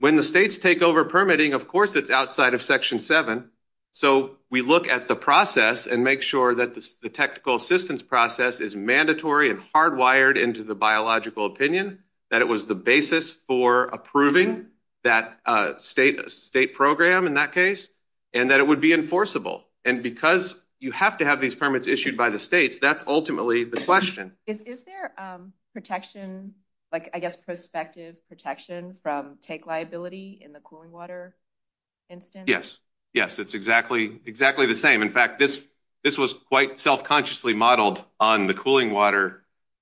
when the states take over permitting, of course, it's outside of Section 7. So we look at the process and make sure that the technical assistance process is mandatory and hardwired into the biological opinion, that it was the basis for approving that state program in that case, and that it would be enforceable. And because you have to have these permits issued by the states, that's ultimately the question. Is there protection, like, I guess, prospective protection from take liability in the cooling water instance? Yes. Yes. It's exactly the same. In fact, this was quite self-consciously modeled on the cooling water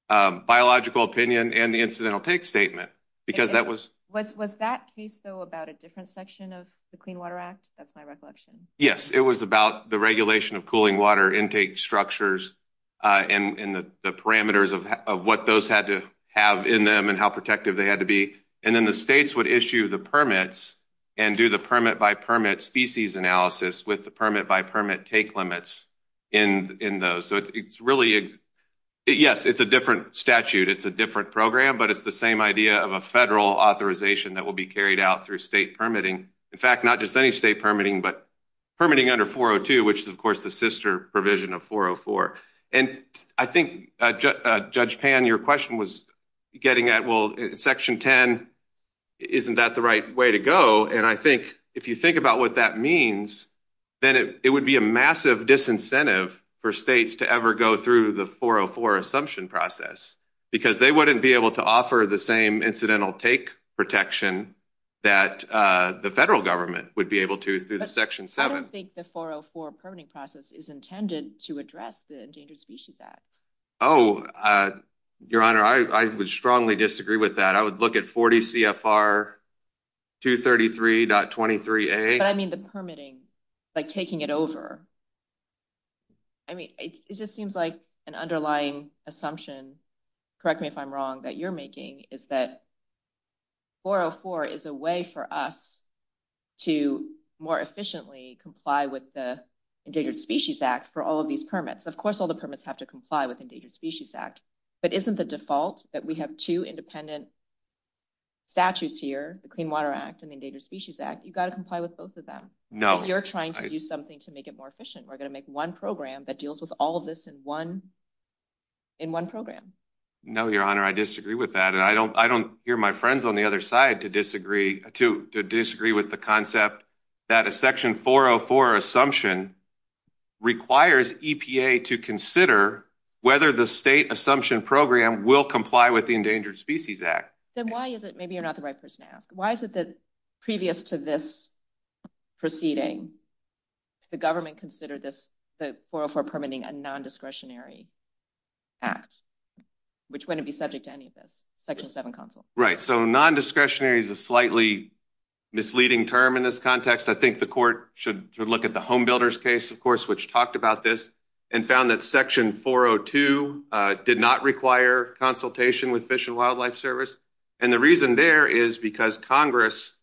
biological opinion and the incidental take statement because that was... Was that case, though, about a different section of the Clean Water Act? That's my recollection. Yes. It was about the regulation of cooling water intake structures and the parameters of what those had to have in them and how protective they had to be. And then the states would issue the permits and do the permit-by-permit species analysis with the permit-by-permit take limits in those. So it's really... Yes, it's a different statute. It's a different program, but it's the same idea of a federal authorization that will be carried out through state permitting. In fact, not just any state permitting, but permitting under 402, which is, of course, the sister provision of 404. And I think, Judge Pan, your question was getting at, well, Section 10, isn't that the right way to go? And I think if you think about what that means, then it would be a massive disincentive for states to ever go through the 404 assumption process because they wouldn't be able to offer the same incidental take protection that the federal government would be able to through the Section 7. I don't think the 404 permitting process is intended to address the Endangered Species Act. Oh, Your Honor, I would strongly disagree with that. I would look at 40 CFR 233.23a. But I mean the permitting, like taking it over. I mean, it just seems like an underlying assumption, correct me if I'm wrong, that you're making is that 404 is a way for us to more efficiently comply with the Endangered Species Act for all of these permits. Of course, all the permits have to comply with Endangered Species Act, but isn't the default that we have two independent statutes here, the Clean Water Act and the Endangered Species Act, you've got to comply with both of them. No. You're trying to do something to make it more efficient. We're going to make one program that deals with all of this in one program. No, Your Honor, I disagree with that. And I don't hear my friends on the other side to disagree with the concept that a Section 404 assumption requires EPA to consider whether the state assumption program will comply with the Endangered Species Act. Then why is it, maybe you're not the right person to this proceeding, the government considered this, the 404 permitting a non-discretionary act, which wouldn't be subject to any of this, Section 7 Council. Right. So non-discretionary is a slightly misleading term in this context. I think the court should look at the Home Builders case, of course, which talked about this and found that Section 402 did not require consultation with Fish and Wildlife Service. And the reason there is because Congress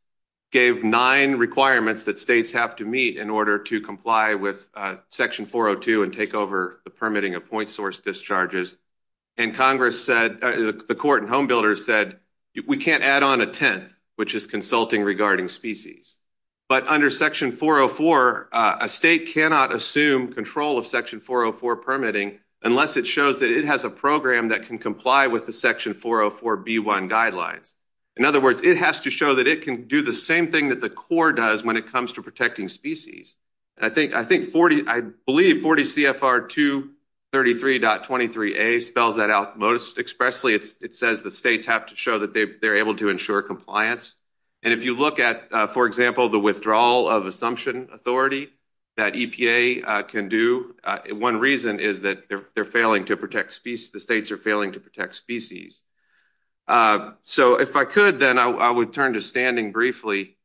gave nine requirements that states have to meet in order to comply with Section 402 and take over the permitting of point source discharges. And Congress said, the court and Home Builders said, we can't add on a 10th, which is consulting regarding species. But under Section 404, a state cannot assume control of Section 404 permitting unless it shows that it has a program that can comply with the Section 404b1 guideline. In other words, it has to show that it can do the same thing that the court does when it comes to protecting species. And I think, I think 40, I believe 40 CFR 233.23a spells that out most expressly. It says the states have to show that they're able to ensure compliance. And if you look at, for example, the withdrawal of assumption authority that EPA can do, one reason is that they're failing to protect species, the states are failing to protect species. So if I could, then I would turn to standing briefly.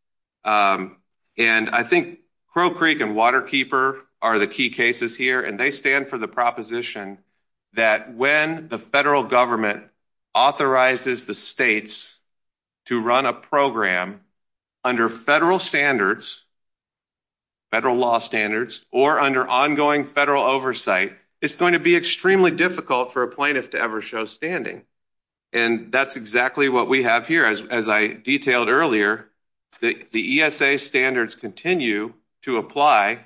And I think Crow Creek and Waterkeeper are the key cases here. And they stand for the proposition that when the federal government authorizes the states to run a program under federal standards, federal law standards, or under ongoing federal oversight, it's going to be extremely difficult for a plaintiff to ever show standing. And that's exactly what we have here. As I detailed earlier, the ESA standards continue to apply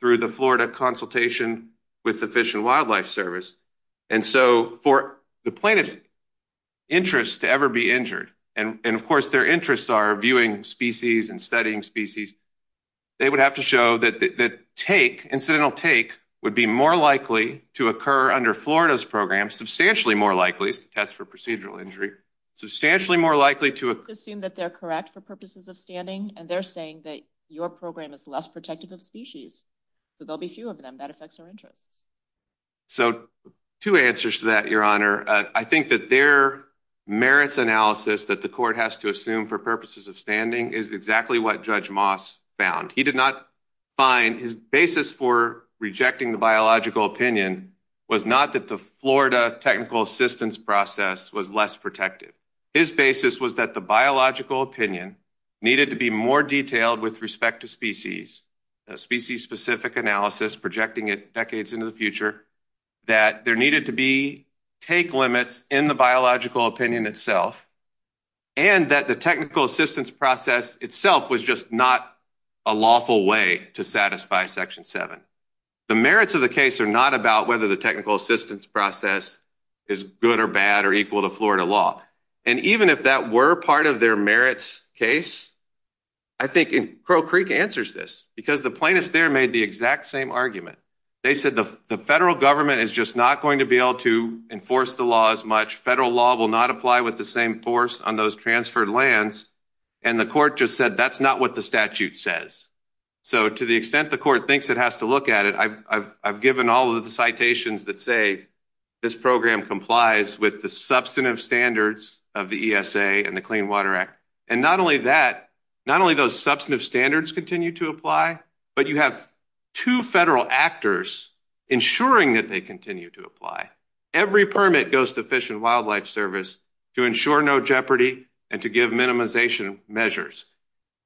through the Florida consultation with the Fish and Wildlife Service. And so for the plaintiff's interest to ever be injured, and of course their interests are viewing species and species, they would have to show that take, incidental take would be more likely to occur under Florida's program, substantially more likely to test for procedural injury, substantially more likely to assume that they're correct for purposes of standing. And they're saying that your program is less protective of species. So there'll be few of them that affects their interest. So two answers to that, Your Honor. I think that their merits analysis that the court has to assume for purposes of standing is exactly what Judge Moss found. He did not find his basis for rejecting the biological opinion was not that the Florida technical assistance process was less protective. His basis was that the biological opinion needed to be more detailed with respect to species, species specific analysis, projecting it decades into the future, that there needed to be take limits in the biological opinion itself, and that the technical assistance process itself was just not a lawful way to satisfy Section 7. The merits of the case are not about whether the technical assistance process is good or bad or equal to Florida law. And even if that were part of their merits case, I think Crow Creek answers this because the plaintiffs there made the exact same argument. They said the federal government is just not going to be able to enforce the law as much. Federal law will not apply with the same force on those transferred lands. And the court just said that's not what the statute says. So to the extent the court thinks it has to look at it, I've given all of the citations that say this program complies with the substantive standards of the ESA and the Clean Water Act. And not only that, not only those substantive standards continue to apply, but you have two federal actors ensuring that they continue to apply. Every permit goes to Fish and Wildlife Service to ensure no jeopardy and to give minimization measures.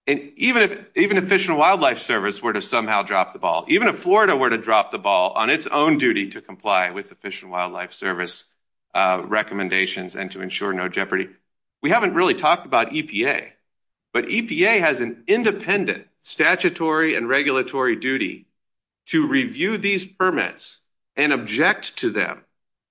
And even if Fish and Wildlife Service were to somehow drop the ball, even if Florida were to drop the ball on its own duty to comply with the Fish and Wildlife Service recommendations and to ensure no jeopardy, we haven't really talked about EPA. But EPA has an independent statutory and regulatory duty to review these permits and object to them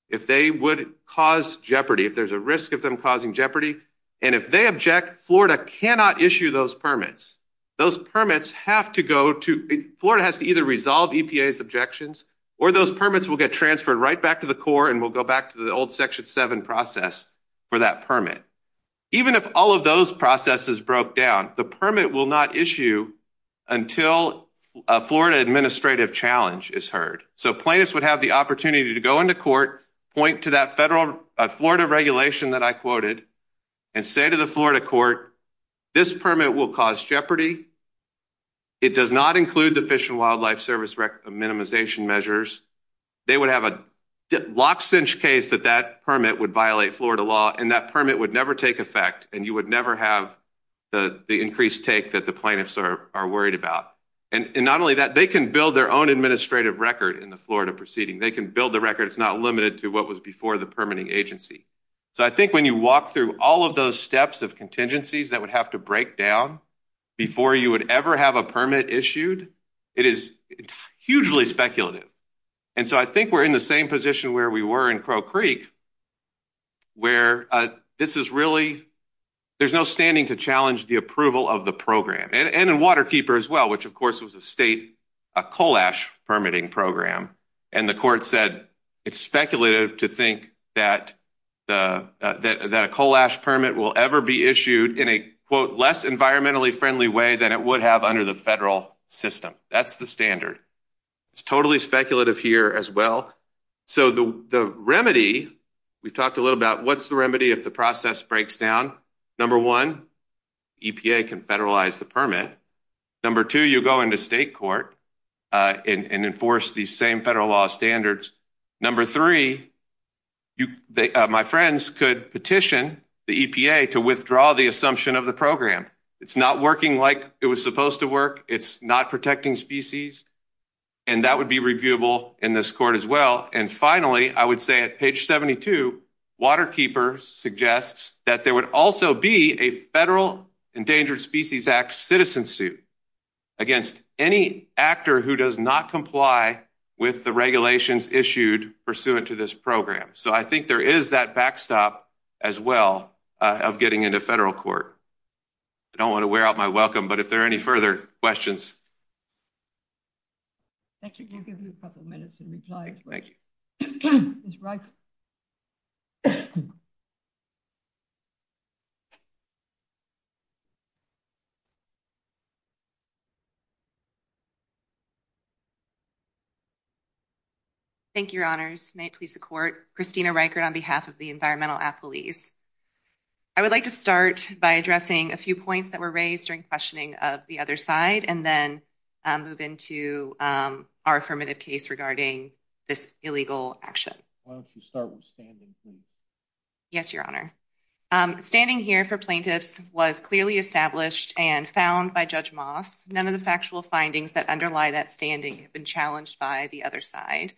if they would cause jeopardy, if there's a risk of them causing jeopardy. And if they object, Florida cannot issue those permits. Those permits have to go to, Florida has to either resolve EPA's objections or those permits will get transferred right back to the court and will go back to the old Section 7 process for that permit. Even if all of those processes broke down, the permit will not issue until a Florida administrative challenge is heard. So plaintiffs would have the opportunity to go into court, point to that federal Florida regulation that I quoted, and say to the Florida court, this permit will cause jeopardy. It does not include the Fish and Wildlife Service minimization measures. They would have a lockstitch case that that permit would violate Florida law and that permit would never take effect and you would never have the increased take that the plaintiffs are worried about. And not only that, they can build their own administrative record in the Florida proceeding. They can build the record. It's not limited to what was before the permitting agency. So I think when you walk through all of those steps of contingencies that would have to break down before you would ever have a permit issued, it is hugely speculative. And so I think we're in the same position where we were in Crow Creek, where this is really, there's no standing to challenge the approval of the program. And in Waterkeeper as well, which of course was a state coal ash permitting program, and the court said it's speculative to think that a coal ash permit will ever be issued in a quote environmentally friendly way than it would have under the federal system. That's the standard. It's totally speculative here as well. So the remedy, we've talked a little about what's the remedy if the process breaks down. Number one, EPA can federalize the permit. Number two, you go into state court and enforce these same federal law standards. Number three, my friends could petition the EPA to withdraw the assumption of the program. It's not working like it was supposed to work. It's not protecting species. And that would be reviewable in this court as well. And finally, I would say at page 72, Waterkeeper suggests that there would also be a federal Endangered Species Act citizen suit against any actor who does not comply with the regulations issued pursuant to this program. So I think there is that backstop as well of getting into federal court. I don't want to wear out my welcome, but if there are any further questions. That should give you a couple minutes to reply. Thank you. Thank you, Your Honors. May it please the court. Christina Riker on behalf of the Environmental Affilies. I would like to start by addressing a few points that were raised during questioning of the other side and then move into our affirmative case regarding this illegal action. Yes, Your Honor. Standing here for plaintiffs was clearly established and found by Judge Moss. None of the factual findings that underlie that standing have been challenged by the other side.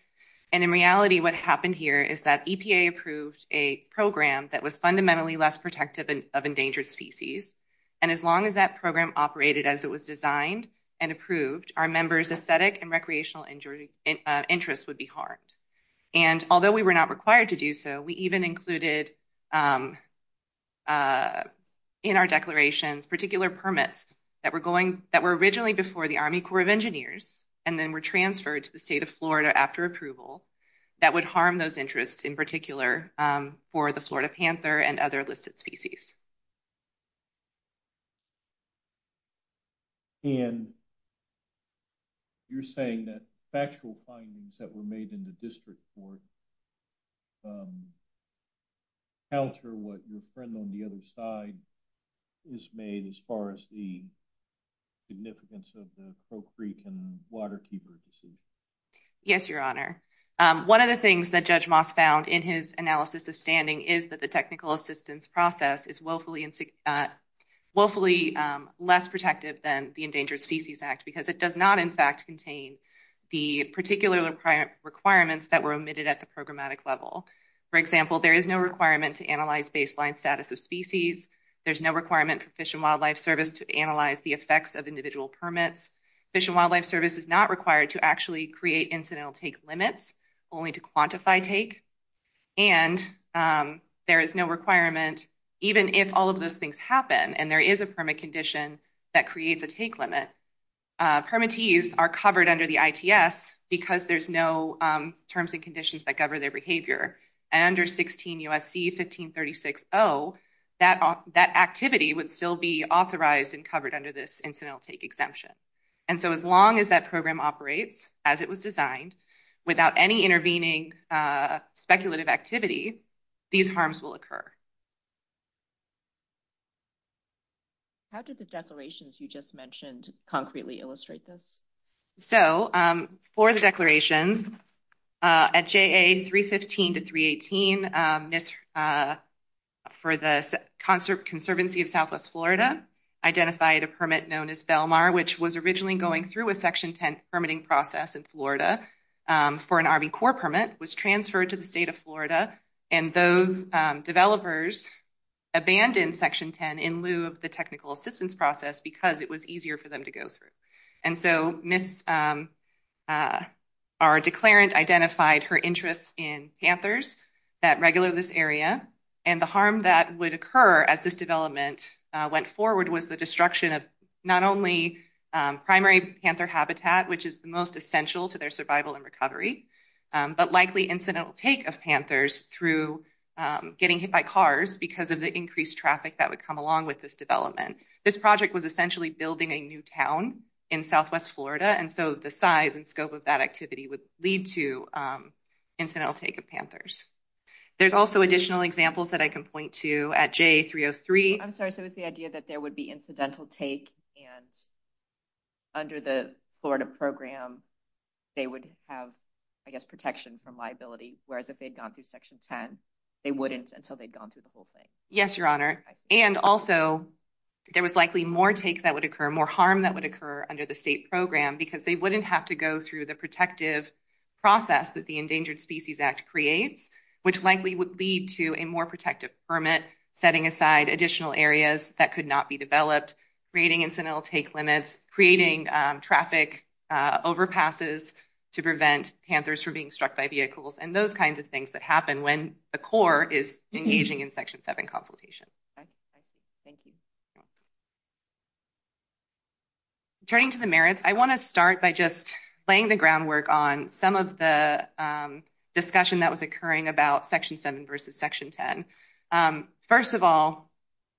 In reality, what happened here is that EPA approved a program that was fundamentally less protective of endangered species. And as long as that program operated as it was designed and approved, our members' aesthetic and recreational interests would be harmed. Although we were not required to do so, we even included in our declaration particular permits that were originally before the Army Corps of Engineers and then were transferred to the state of Florida after approval that would harm those interests in particular for the Florida panther and other listed species. And you're saying that factual findings that were made in the district court counter what your friend on the other side has made as far as the significance of the Coal Creek and the water keepers? Yes, Your Honor. One of the things that Judge Moss found in his analysis of standing is that the technical assistance process is willfully less protective than the Endangered Species Act because it does not, in fact, contain the particular requirements that were omitted at the programmatic level. For example, there is no requirement to analyze baseline status of species. There's no requirement for Fish and Wildlife Service to analyze the effects of individual permits. Fish and Wildlife Service is not required to actually create incidental take limits only to quantify take. And there is no requirement even if all of those things happen and there is a permit condition that creates a take limit. Permittees are covered under the ITS because there's no terms and conditions that govern their behavior. Under 16 U.S.C. 1536-0, that activity would still be authorized and covered under this incidental take exemption. And so as long as that program operates as it was designed without any intervening speculative activity, these harms will occur. How did the declarations you just mentioned concretely illustrate this? So for the declarations, at JA 315-318, for the Conservancy of Southwest Florida, identified a permit known as Belmar, which was originally going through a Section 10 permitting process in Florida for an Army Corps permit, was transferred to the state of Florida, and those developers abandoned Section 10 in lieu of the technical assistance process because it was easier for them to go through. And so our declarant identified her interest in panthers that regular this area, and the harm that would occur at this development went forward with the destruction of not only primary panther habitat, which is the most essential to their survival and recovery, but likely incidental take of panthers through getting hit by cars because of the increased traffic that would come along with this development. This project was essentially building a new town in Southwest Florida, and so the size and scope of that activity would lead to incidental take of panthers. There's also additional examples that I can point to at JA 303. I'm sorry, so it's the idea that there would be incidental take, and under the Florida program, they would have, I guess, protection from liability, whereas if they'd gone through Section 10, they wouldn't until they'd gone through the whole thing. Yes, Your Honor, and also there was likely more take that would occur, more harm that would occur under the state program because they wouldn't have to go through the protective process that the Endangered Species Act creates, which likely would lead to a more protective permit setting aside additional areas that could not be developed, creating incidental take limits, creating traffic overpasses to prevent panthers from being struck by vehicles, and those kinds of things that happen when the Corps is engaging in Section 7 consultation. Thank you. Turning to the merits, I want to start by just laying the groundwork on some of the discussion that was occurring about Section 7 versus Section 10. First of all,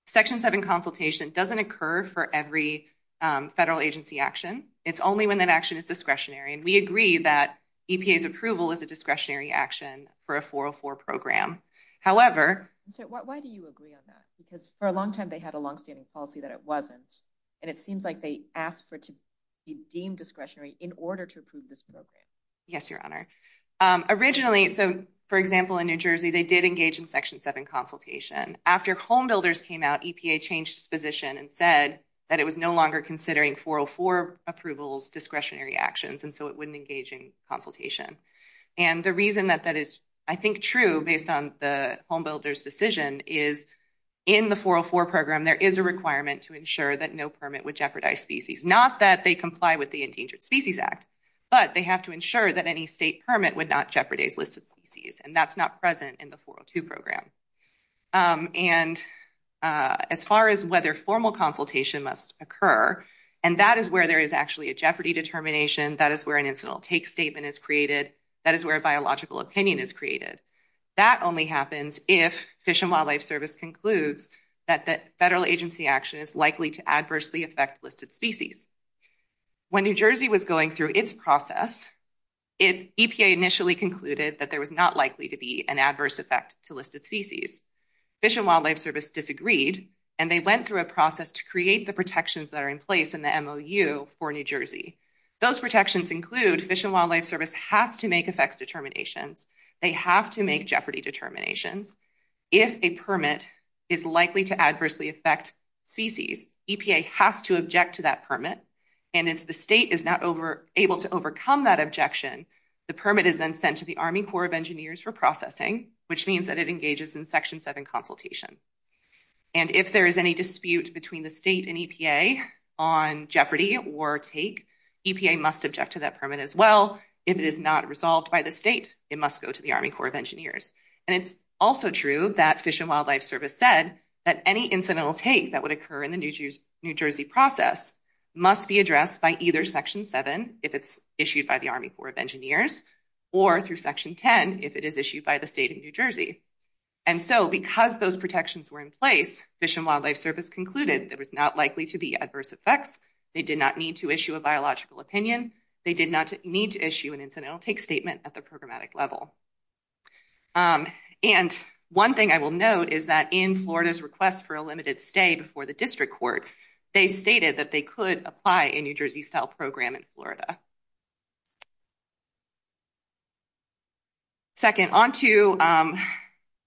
Section 7 consultation doesn't occur for every federal agency action. It's only when that action is and we agree that EPA's approval is a discretionary action for a 404 program. However... Why do you agree on that? Because for a long time, they had a long-standing policy that it wasn't, and it seems like they asked for it to be deemed discretionary in order to approve this program. Yes, Your Honor. Originally, so for example, in New Jersey, they did engage in Section 7 consultation. After homebuilders came out, EPA changed its position and said that it was no considering 404 approvals discretionary actions, and so it wouldn't engage in consultation. The reason that that is, I think, true based on the homebuilders' decision is in the 404 program, there is a requirement to ensure that no permit would jeopardize species, not that they comply with the Endangered Species Act, but they have to ensure that any state permit would not jeopardize listed species, and that's not present in the 402 program. As far as whether formal consultation must occur, and that is where there is actually a jeopardy determination, that is where an incidental take statement is created, that is where a biological opinion is created. That only happens if Fish and Wildlife Service concludes that federal agency action is likely to adversely affect listed species. When New Jersey was going through its process, EPA initially concluded that there was not likely to be an adverse effect to listed species. Fish and Wildlife Service disagreed, and they went through a process to create the protections that are in place in the MOU for New Jersey. Those protections include Fish and Wildlife Service has to make effects determinations. They have to make jeopardy determinations. If a permit is likely to adversely affect species, EPA has to object to that permit, and if the state is not able to overcome that objection, the permit is then sent to the Army Corps of Engineers for processing, which means that it engages in Section 7 consultation. If there is any dispute between the state and EPA on jeopardy or take, EPA must object to that permit as well. If it is not resolved by the state, it must go to the Army Corps of Engineers. It's also true that Fish and Wildlife Service said that any incidental take that would occur in the New Jersey process must be addressed by either Section 7, if it's issued by the Army Corps of Engineers, or through Section 10, if it is issued by the state of New Jersey. And so because those protections were in place, Fish and Wildlife Service concluded there was not likely to be adverse effects. They did not need to issue a biological opinion. They did not need to issue an incidental take statement at the programmatic level. And one thing I will note is that in Florida's request for a limited stay before the district courts, they stated that they could apply in New Jersey's health program in Florida. Second, on to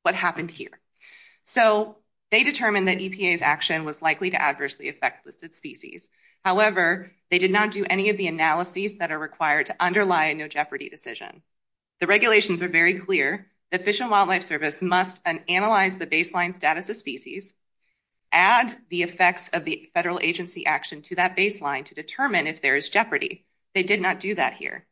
what happened here. So they determined that EPA's action was likely to adversely affect listed species. However, they did not do any of the analyses that are required to underlie a no jeopardy decision. The regulations are very clear that Fish and Wildlife Service must analyze the baseline status of species, add the effects of the federal agency action to that baseline to determine if there is jeopardy. They did not do that here.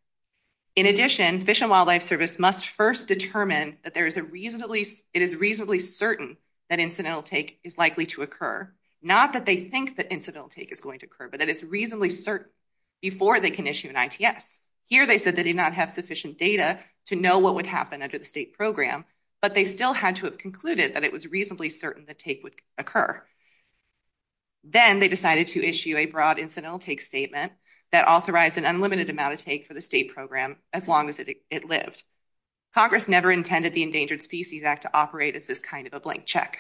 In addition, Fish and Wildlife Service must first determine that it is reasonably certain that incidental take is likely to occur, not that they think that incidental take is going to occur, but that it's reasonably certain before they can issue an ITS. Here they said they did not have sufficient data to know what would happen under the state program, but they still had to have concluded that it was reasonably certain that take would occur. Then they decided to issue a broad incidental take statement that authorized an unlimited amount of take for the state program as long as it lived. Congress never intended the Endangered Species Act to operate as this kind of a blank check.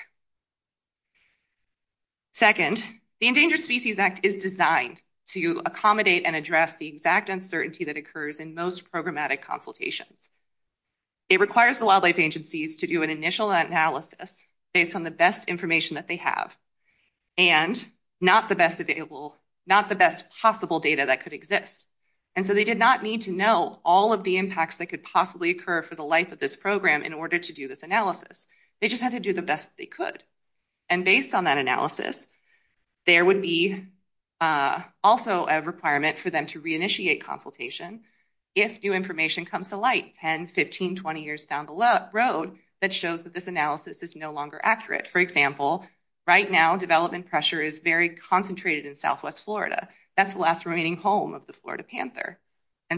Second, the Endangered Species Act is designed to accommodate and address the exact uncertainty that occurs in most programmatic consultations. It requires the wildlife agencies to do an initial analysis based on the best information that they have and not the best possible data that could exist. They did not need to know all of the impacts that could possibly occur for the life of this program in order to do this analysis. They just had to do the best they could. Based on that analysis, there would be also a requirement for them to reinitiate consultation if new information comes to light 10, 15, 20 years down the road that shows that this analysis is no longer accurate. For example, right now, development pressure is very concentrated in Southwest Florida. That's the last remaining home of the Florida panther.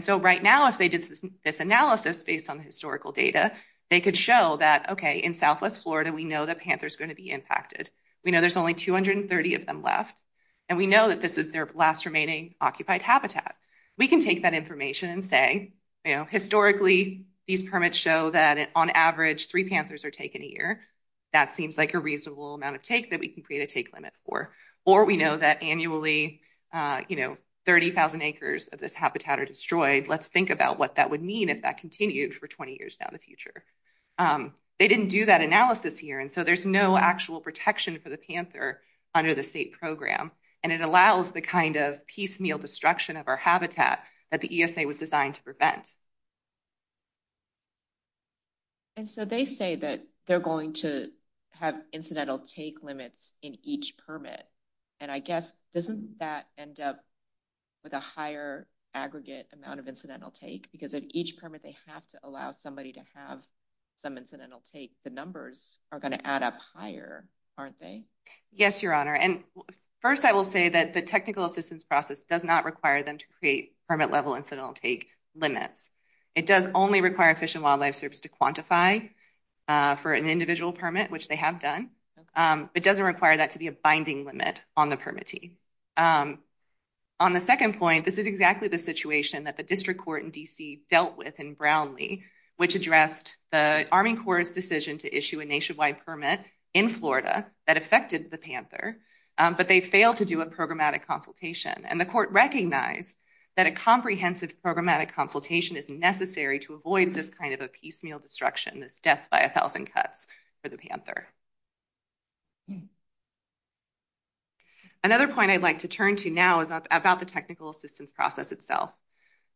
Right now, if they did this analysis based on historical data, they could show that, okay, in Southwest Florida, we know the panther is going to be impacted. We know there's only 230 of them left, and we know that this is their last remaining occupied habitat. We can take that information and say, historically, these permits show that on average, three panthers are taken a year. That seems like a reasonable amount of take that we can create a take limit for. Or we know that annually, 30,000 acres of this habitat are destroyed. Let's think about what that would mean if that continued for 20 years down the future. They didn't do that analysis here. There's no actual protection for the panther under the state program. It allows the piecemeal destruction of our habitat that the ESA was designed to prevent. And so they say that they're going to have incidental take limits in each permit. And I guess, doesn't that end up with a higher aggregate amount of incidental take? Because at each permit, they have to allow somebody to have some incidental take. The numbers are going to add up higher, aren't they? Yes, Your Honor. First, I will say that the technical assistance process does not require them to create permit-level incidental take limits. It does only require Fish and Wildlife Service to quantify for an individual permit, which they have done. It doesn't require that to be a binding limit on the permittee. On the second point, this is exactly the situation that the district court in D.C. dealt with in Brownlee, which addressed the Army Corps' decision to issue a nationwide permit in Florida that affected the panther, but they failed to do a programmatic consultation. And the court recognized that a comprehensive programmatic consultation is necessary to avoid this kind of a piecemeal destruction, this death by a thousand cuts for the panther. Another point I'd like to turn to now is about the technical assistance process itself.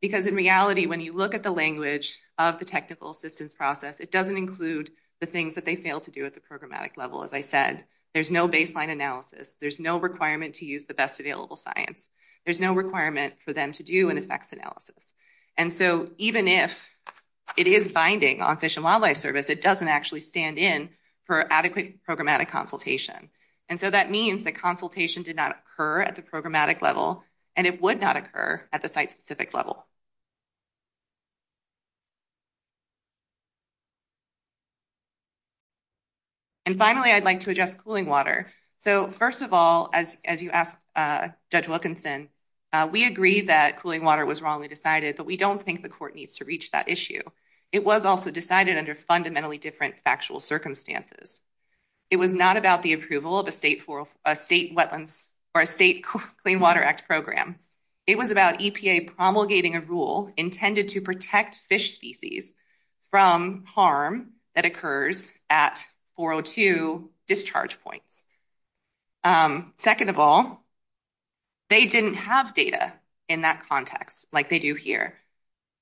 Because in reality, when you look at the language of the technical assistance process, it doesn't include the things that they fail to do at the programmatic level. As I said, there's no baseline analysis. There's no requirement to use the best available science. There's no requirement for them to do an effects analysis. And so even if it is binding on Fish and Wildlife Service, it doesn't actually stand in for adequate programmatic consultation. And so that means that consultation did not occur at the programmatic level, and it would not occur at the site-specific level. And finally, I'd like to address cooling water. So first of all, as you asked Judge Wilkinson, we agree that cooling water was wrongly decided, but we don't think the court needs to reach that issue. It was also decided under fundamentally different factual circumstances. It was not about the approval of a state Clean Water Act program. It was about EPA promulgating a rule intended to protect fish species from harm that occurs at 402 discharge point. Second of all, they didn't have data in that context like they do here.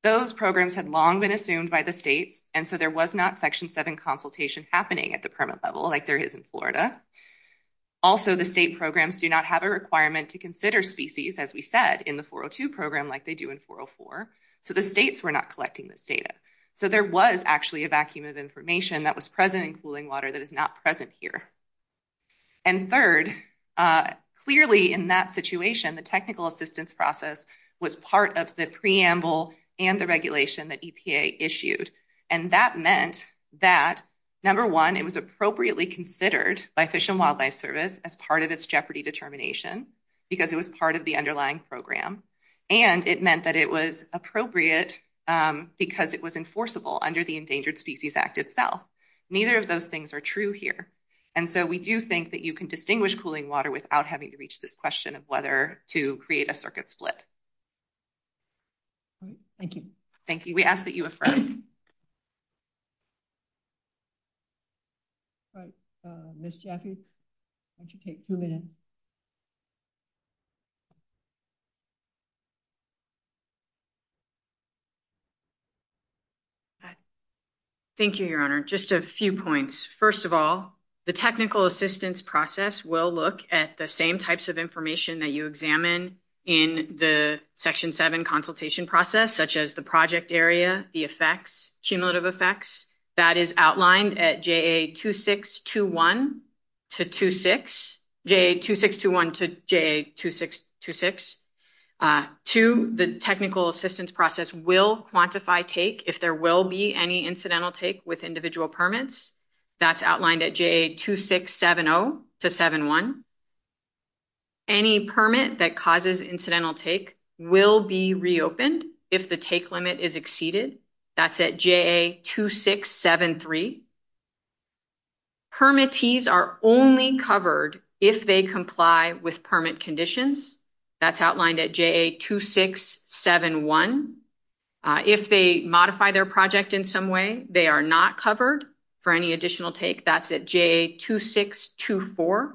Those programs had long been assumed by the state, and so there was not Section 7 consultation happening at the permit level like there is in Florida. Also, the state programs do not have a requirement to consider species, as we said, in the 402 program like they do in 404. So the states were not collecting this data. So there was actually a vacuum of information that was present in cooling water that is not present here. And third, clearly in that situation, the technical assistance process was part of the preamble and the regulation that EPA issued. And that meant that, number one, it was appropriately considered by Fish and Wildlife Service as part of its jeopardy determination because it was part of the underlying program. And it meant that it was appropriate because it was enforceable under the Endangered Species Act itself. Neither of those things are true here. And so we do think that you can distinguish cooling water without having to reach this question of whether to create a circuit split. Thank you. Thank you. We ask that you affirm. All right. Ms. Jackie, why don't you take two minutes? Thank you, Your Honor. Just a few points. First of all, the technical assistance process will look at the same types of information that you examine in the Section 7 consultation process, such as the project area, the effects, cumulative effects. That is outlined at JA2621 to 26. Two, the technical assistance process will quantify take if there will be any incidental take with individual permits. That's outlined at JA2670 to 71. Any permit that causes incidental will be reopened if the take limit is exceeded. That's at JA2673. Permittees are only covered if they comply with permit conditions. That's outlined at JA2671. If they modify their project in some way, they are not covered for any additional take. That's at JA2624.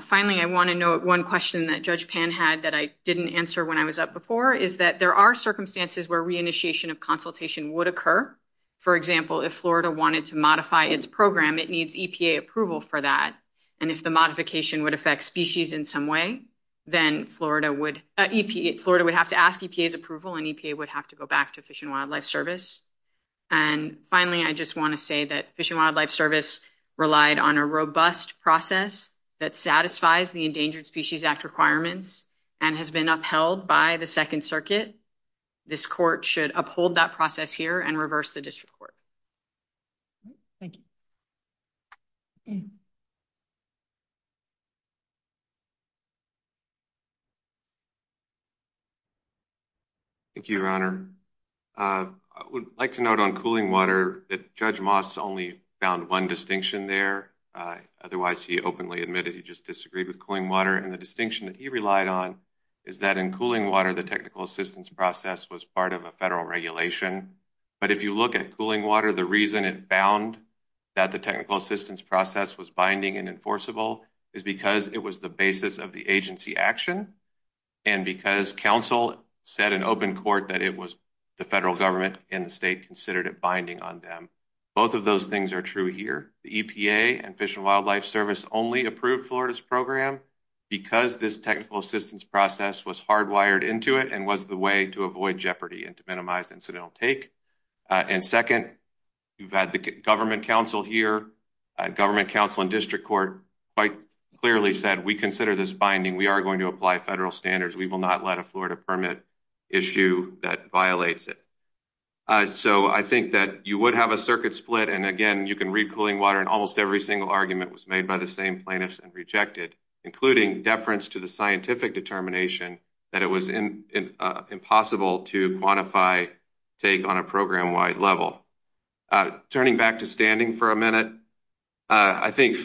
Finally, I want to note one question that Judge Pan had that I didn't answer when I was up before. There are circumstances where reinitiation of consultation would occur. For example, if Florida wanted to modify its program, it needs EPA approval for that. If the modification would affect species in some way, then Florida would have to ask EPA's approval, and EPA would have to go back to Fish and Wildlife Service. Finally, I just want to say that Fish and Wildlife Service relied on a robust process that satisfies the Endangered Species Act requirements and has been upheld by the Second Circuit. This court should uphold that process here and reverse the district court. Thank you. Thank you, Your Honor. I would like to note on cooling water that Judge Moss only found one distinction there. Otherwise, he openly admitted he just disagreed with cooling water. The distinction that he relied on is that in cooling water, the technical assistance process was part of a federal regulation. But if you look at cooling water, the reason it found that the technical assistance process was binding and enforceable is because it was the basis of the agency action and because counsel said in open court that it was the federal government and state considered a binding on them. Both of those things are true here. The EPA and Fish and Wildlife Service only approved Florida's program because this technical assistance process was hardwired into it and was the way to avoid jeopardy and to minimize incidental take. And second, you've had the government counsel here. Government counsel and district court quite clearly said, we consider this binding. We are going to apply federal standards. We will not let a Florida permit issue that violates it. So I think that you would have a circuit split. And again, you can read cooling water and almost every single argument was made by the same plaintiffs and rejected, including deference to the scientific determination that it was impossible to quantify take on a program wide level. Turning back to standing for a minute, I think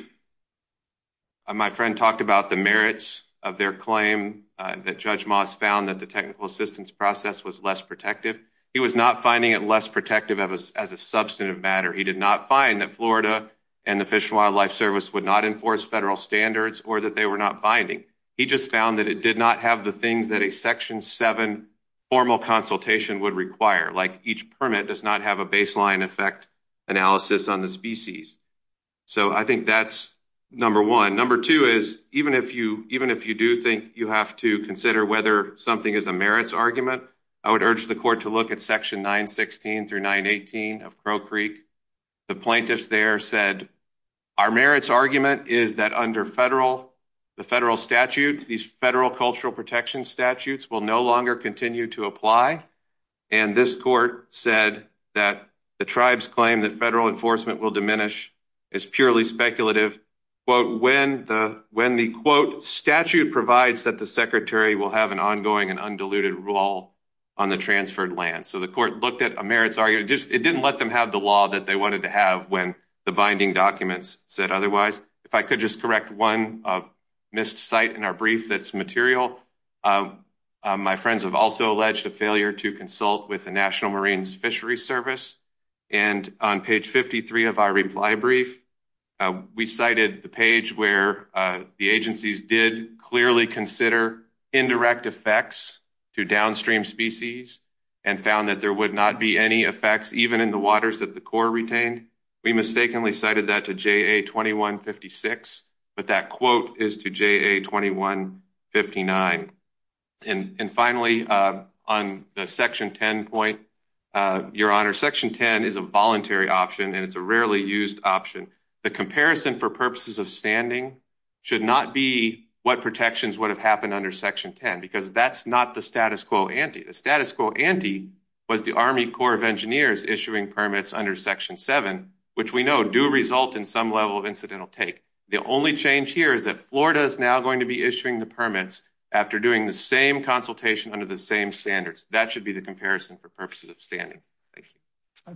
my friend talked about the merits of their claim that Judge Moss found that the technical assistance process was less protective. He was not finding it less protective of us as a substantive matter. He did not find that Florida and the Fish and Wildlife Service would not enforce federal standards or that they were not binding. He just found that it did not have the things that a section seven formal consultation would require. Like each permit does not have a baseline effect analysis on the species. So I think that's number one. Number two is, even if you do think you have to consider whether something is a merits argument, I would urge the court to look at section 916 through 918 of Crow Creek. The plaintiffs there said, our merits argument is that under the federal statute, these federal cultural protection statutes will no longer continue to apply. And this court said that the tribes claim that federal enforcement will diminish is purely speculative. But when the, when the quote statute provides that the secretary will have an ongoing and undiluted role on the transferred land. So the court looked at a merits argument, just, it didn't let them have the law that they wanted to have when the binding documents said otherwise. If I could just correct one missed site in our brief that's material. My friends have also alleged a failure to consult with the national Marines fishery service. And on page 53 of our reply brief, we cited the page where the agencies did clearly consider indirect effects to downstream species and found that there would not be any effects, even in the waters that the core retained. We mistakenly cited that to JA 2156, but that quote is to JA 2159. And finally, on the section 10 point, your honor section 10 is a voluntary option. And it's a rarely used option. The comparison for purposes of standing should not be what protections would have happened under section 10, because that's not the status quo ante. The status quo ante, but the army core of engineers issuing permits under section seven, which we know do result in some level of incidental take. The only change here is that Florida is now going to be issuing the permits after doing the same consultation under the same standards. That should be the comparison for purposes of standing. Thank you.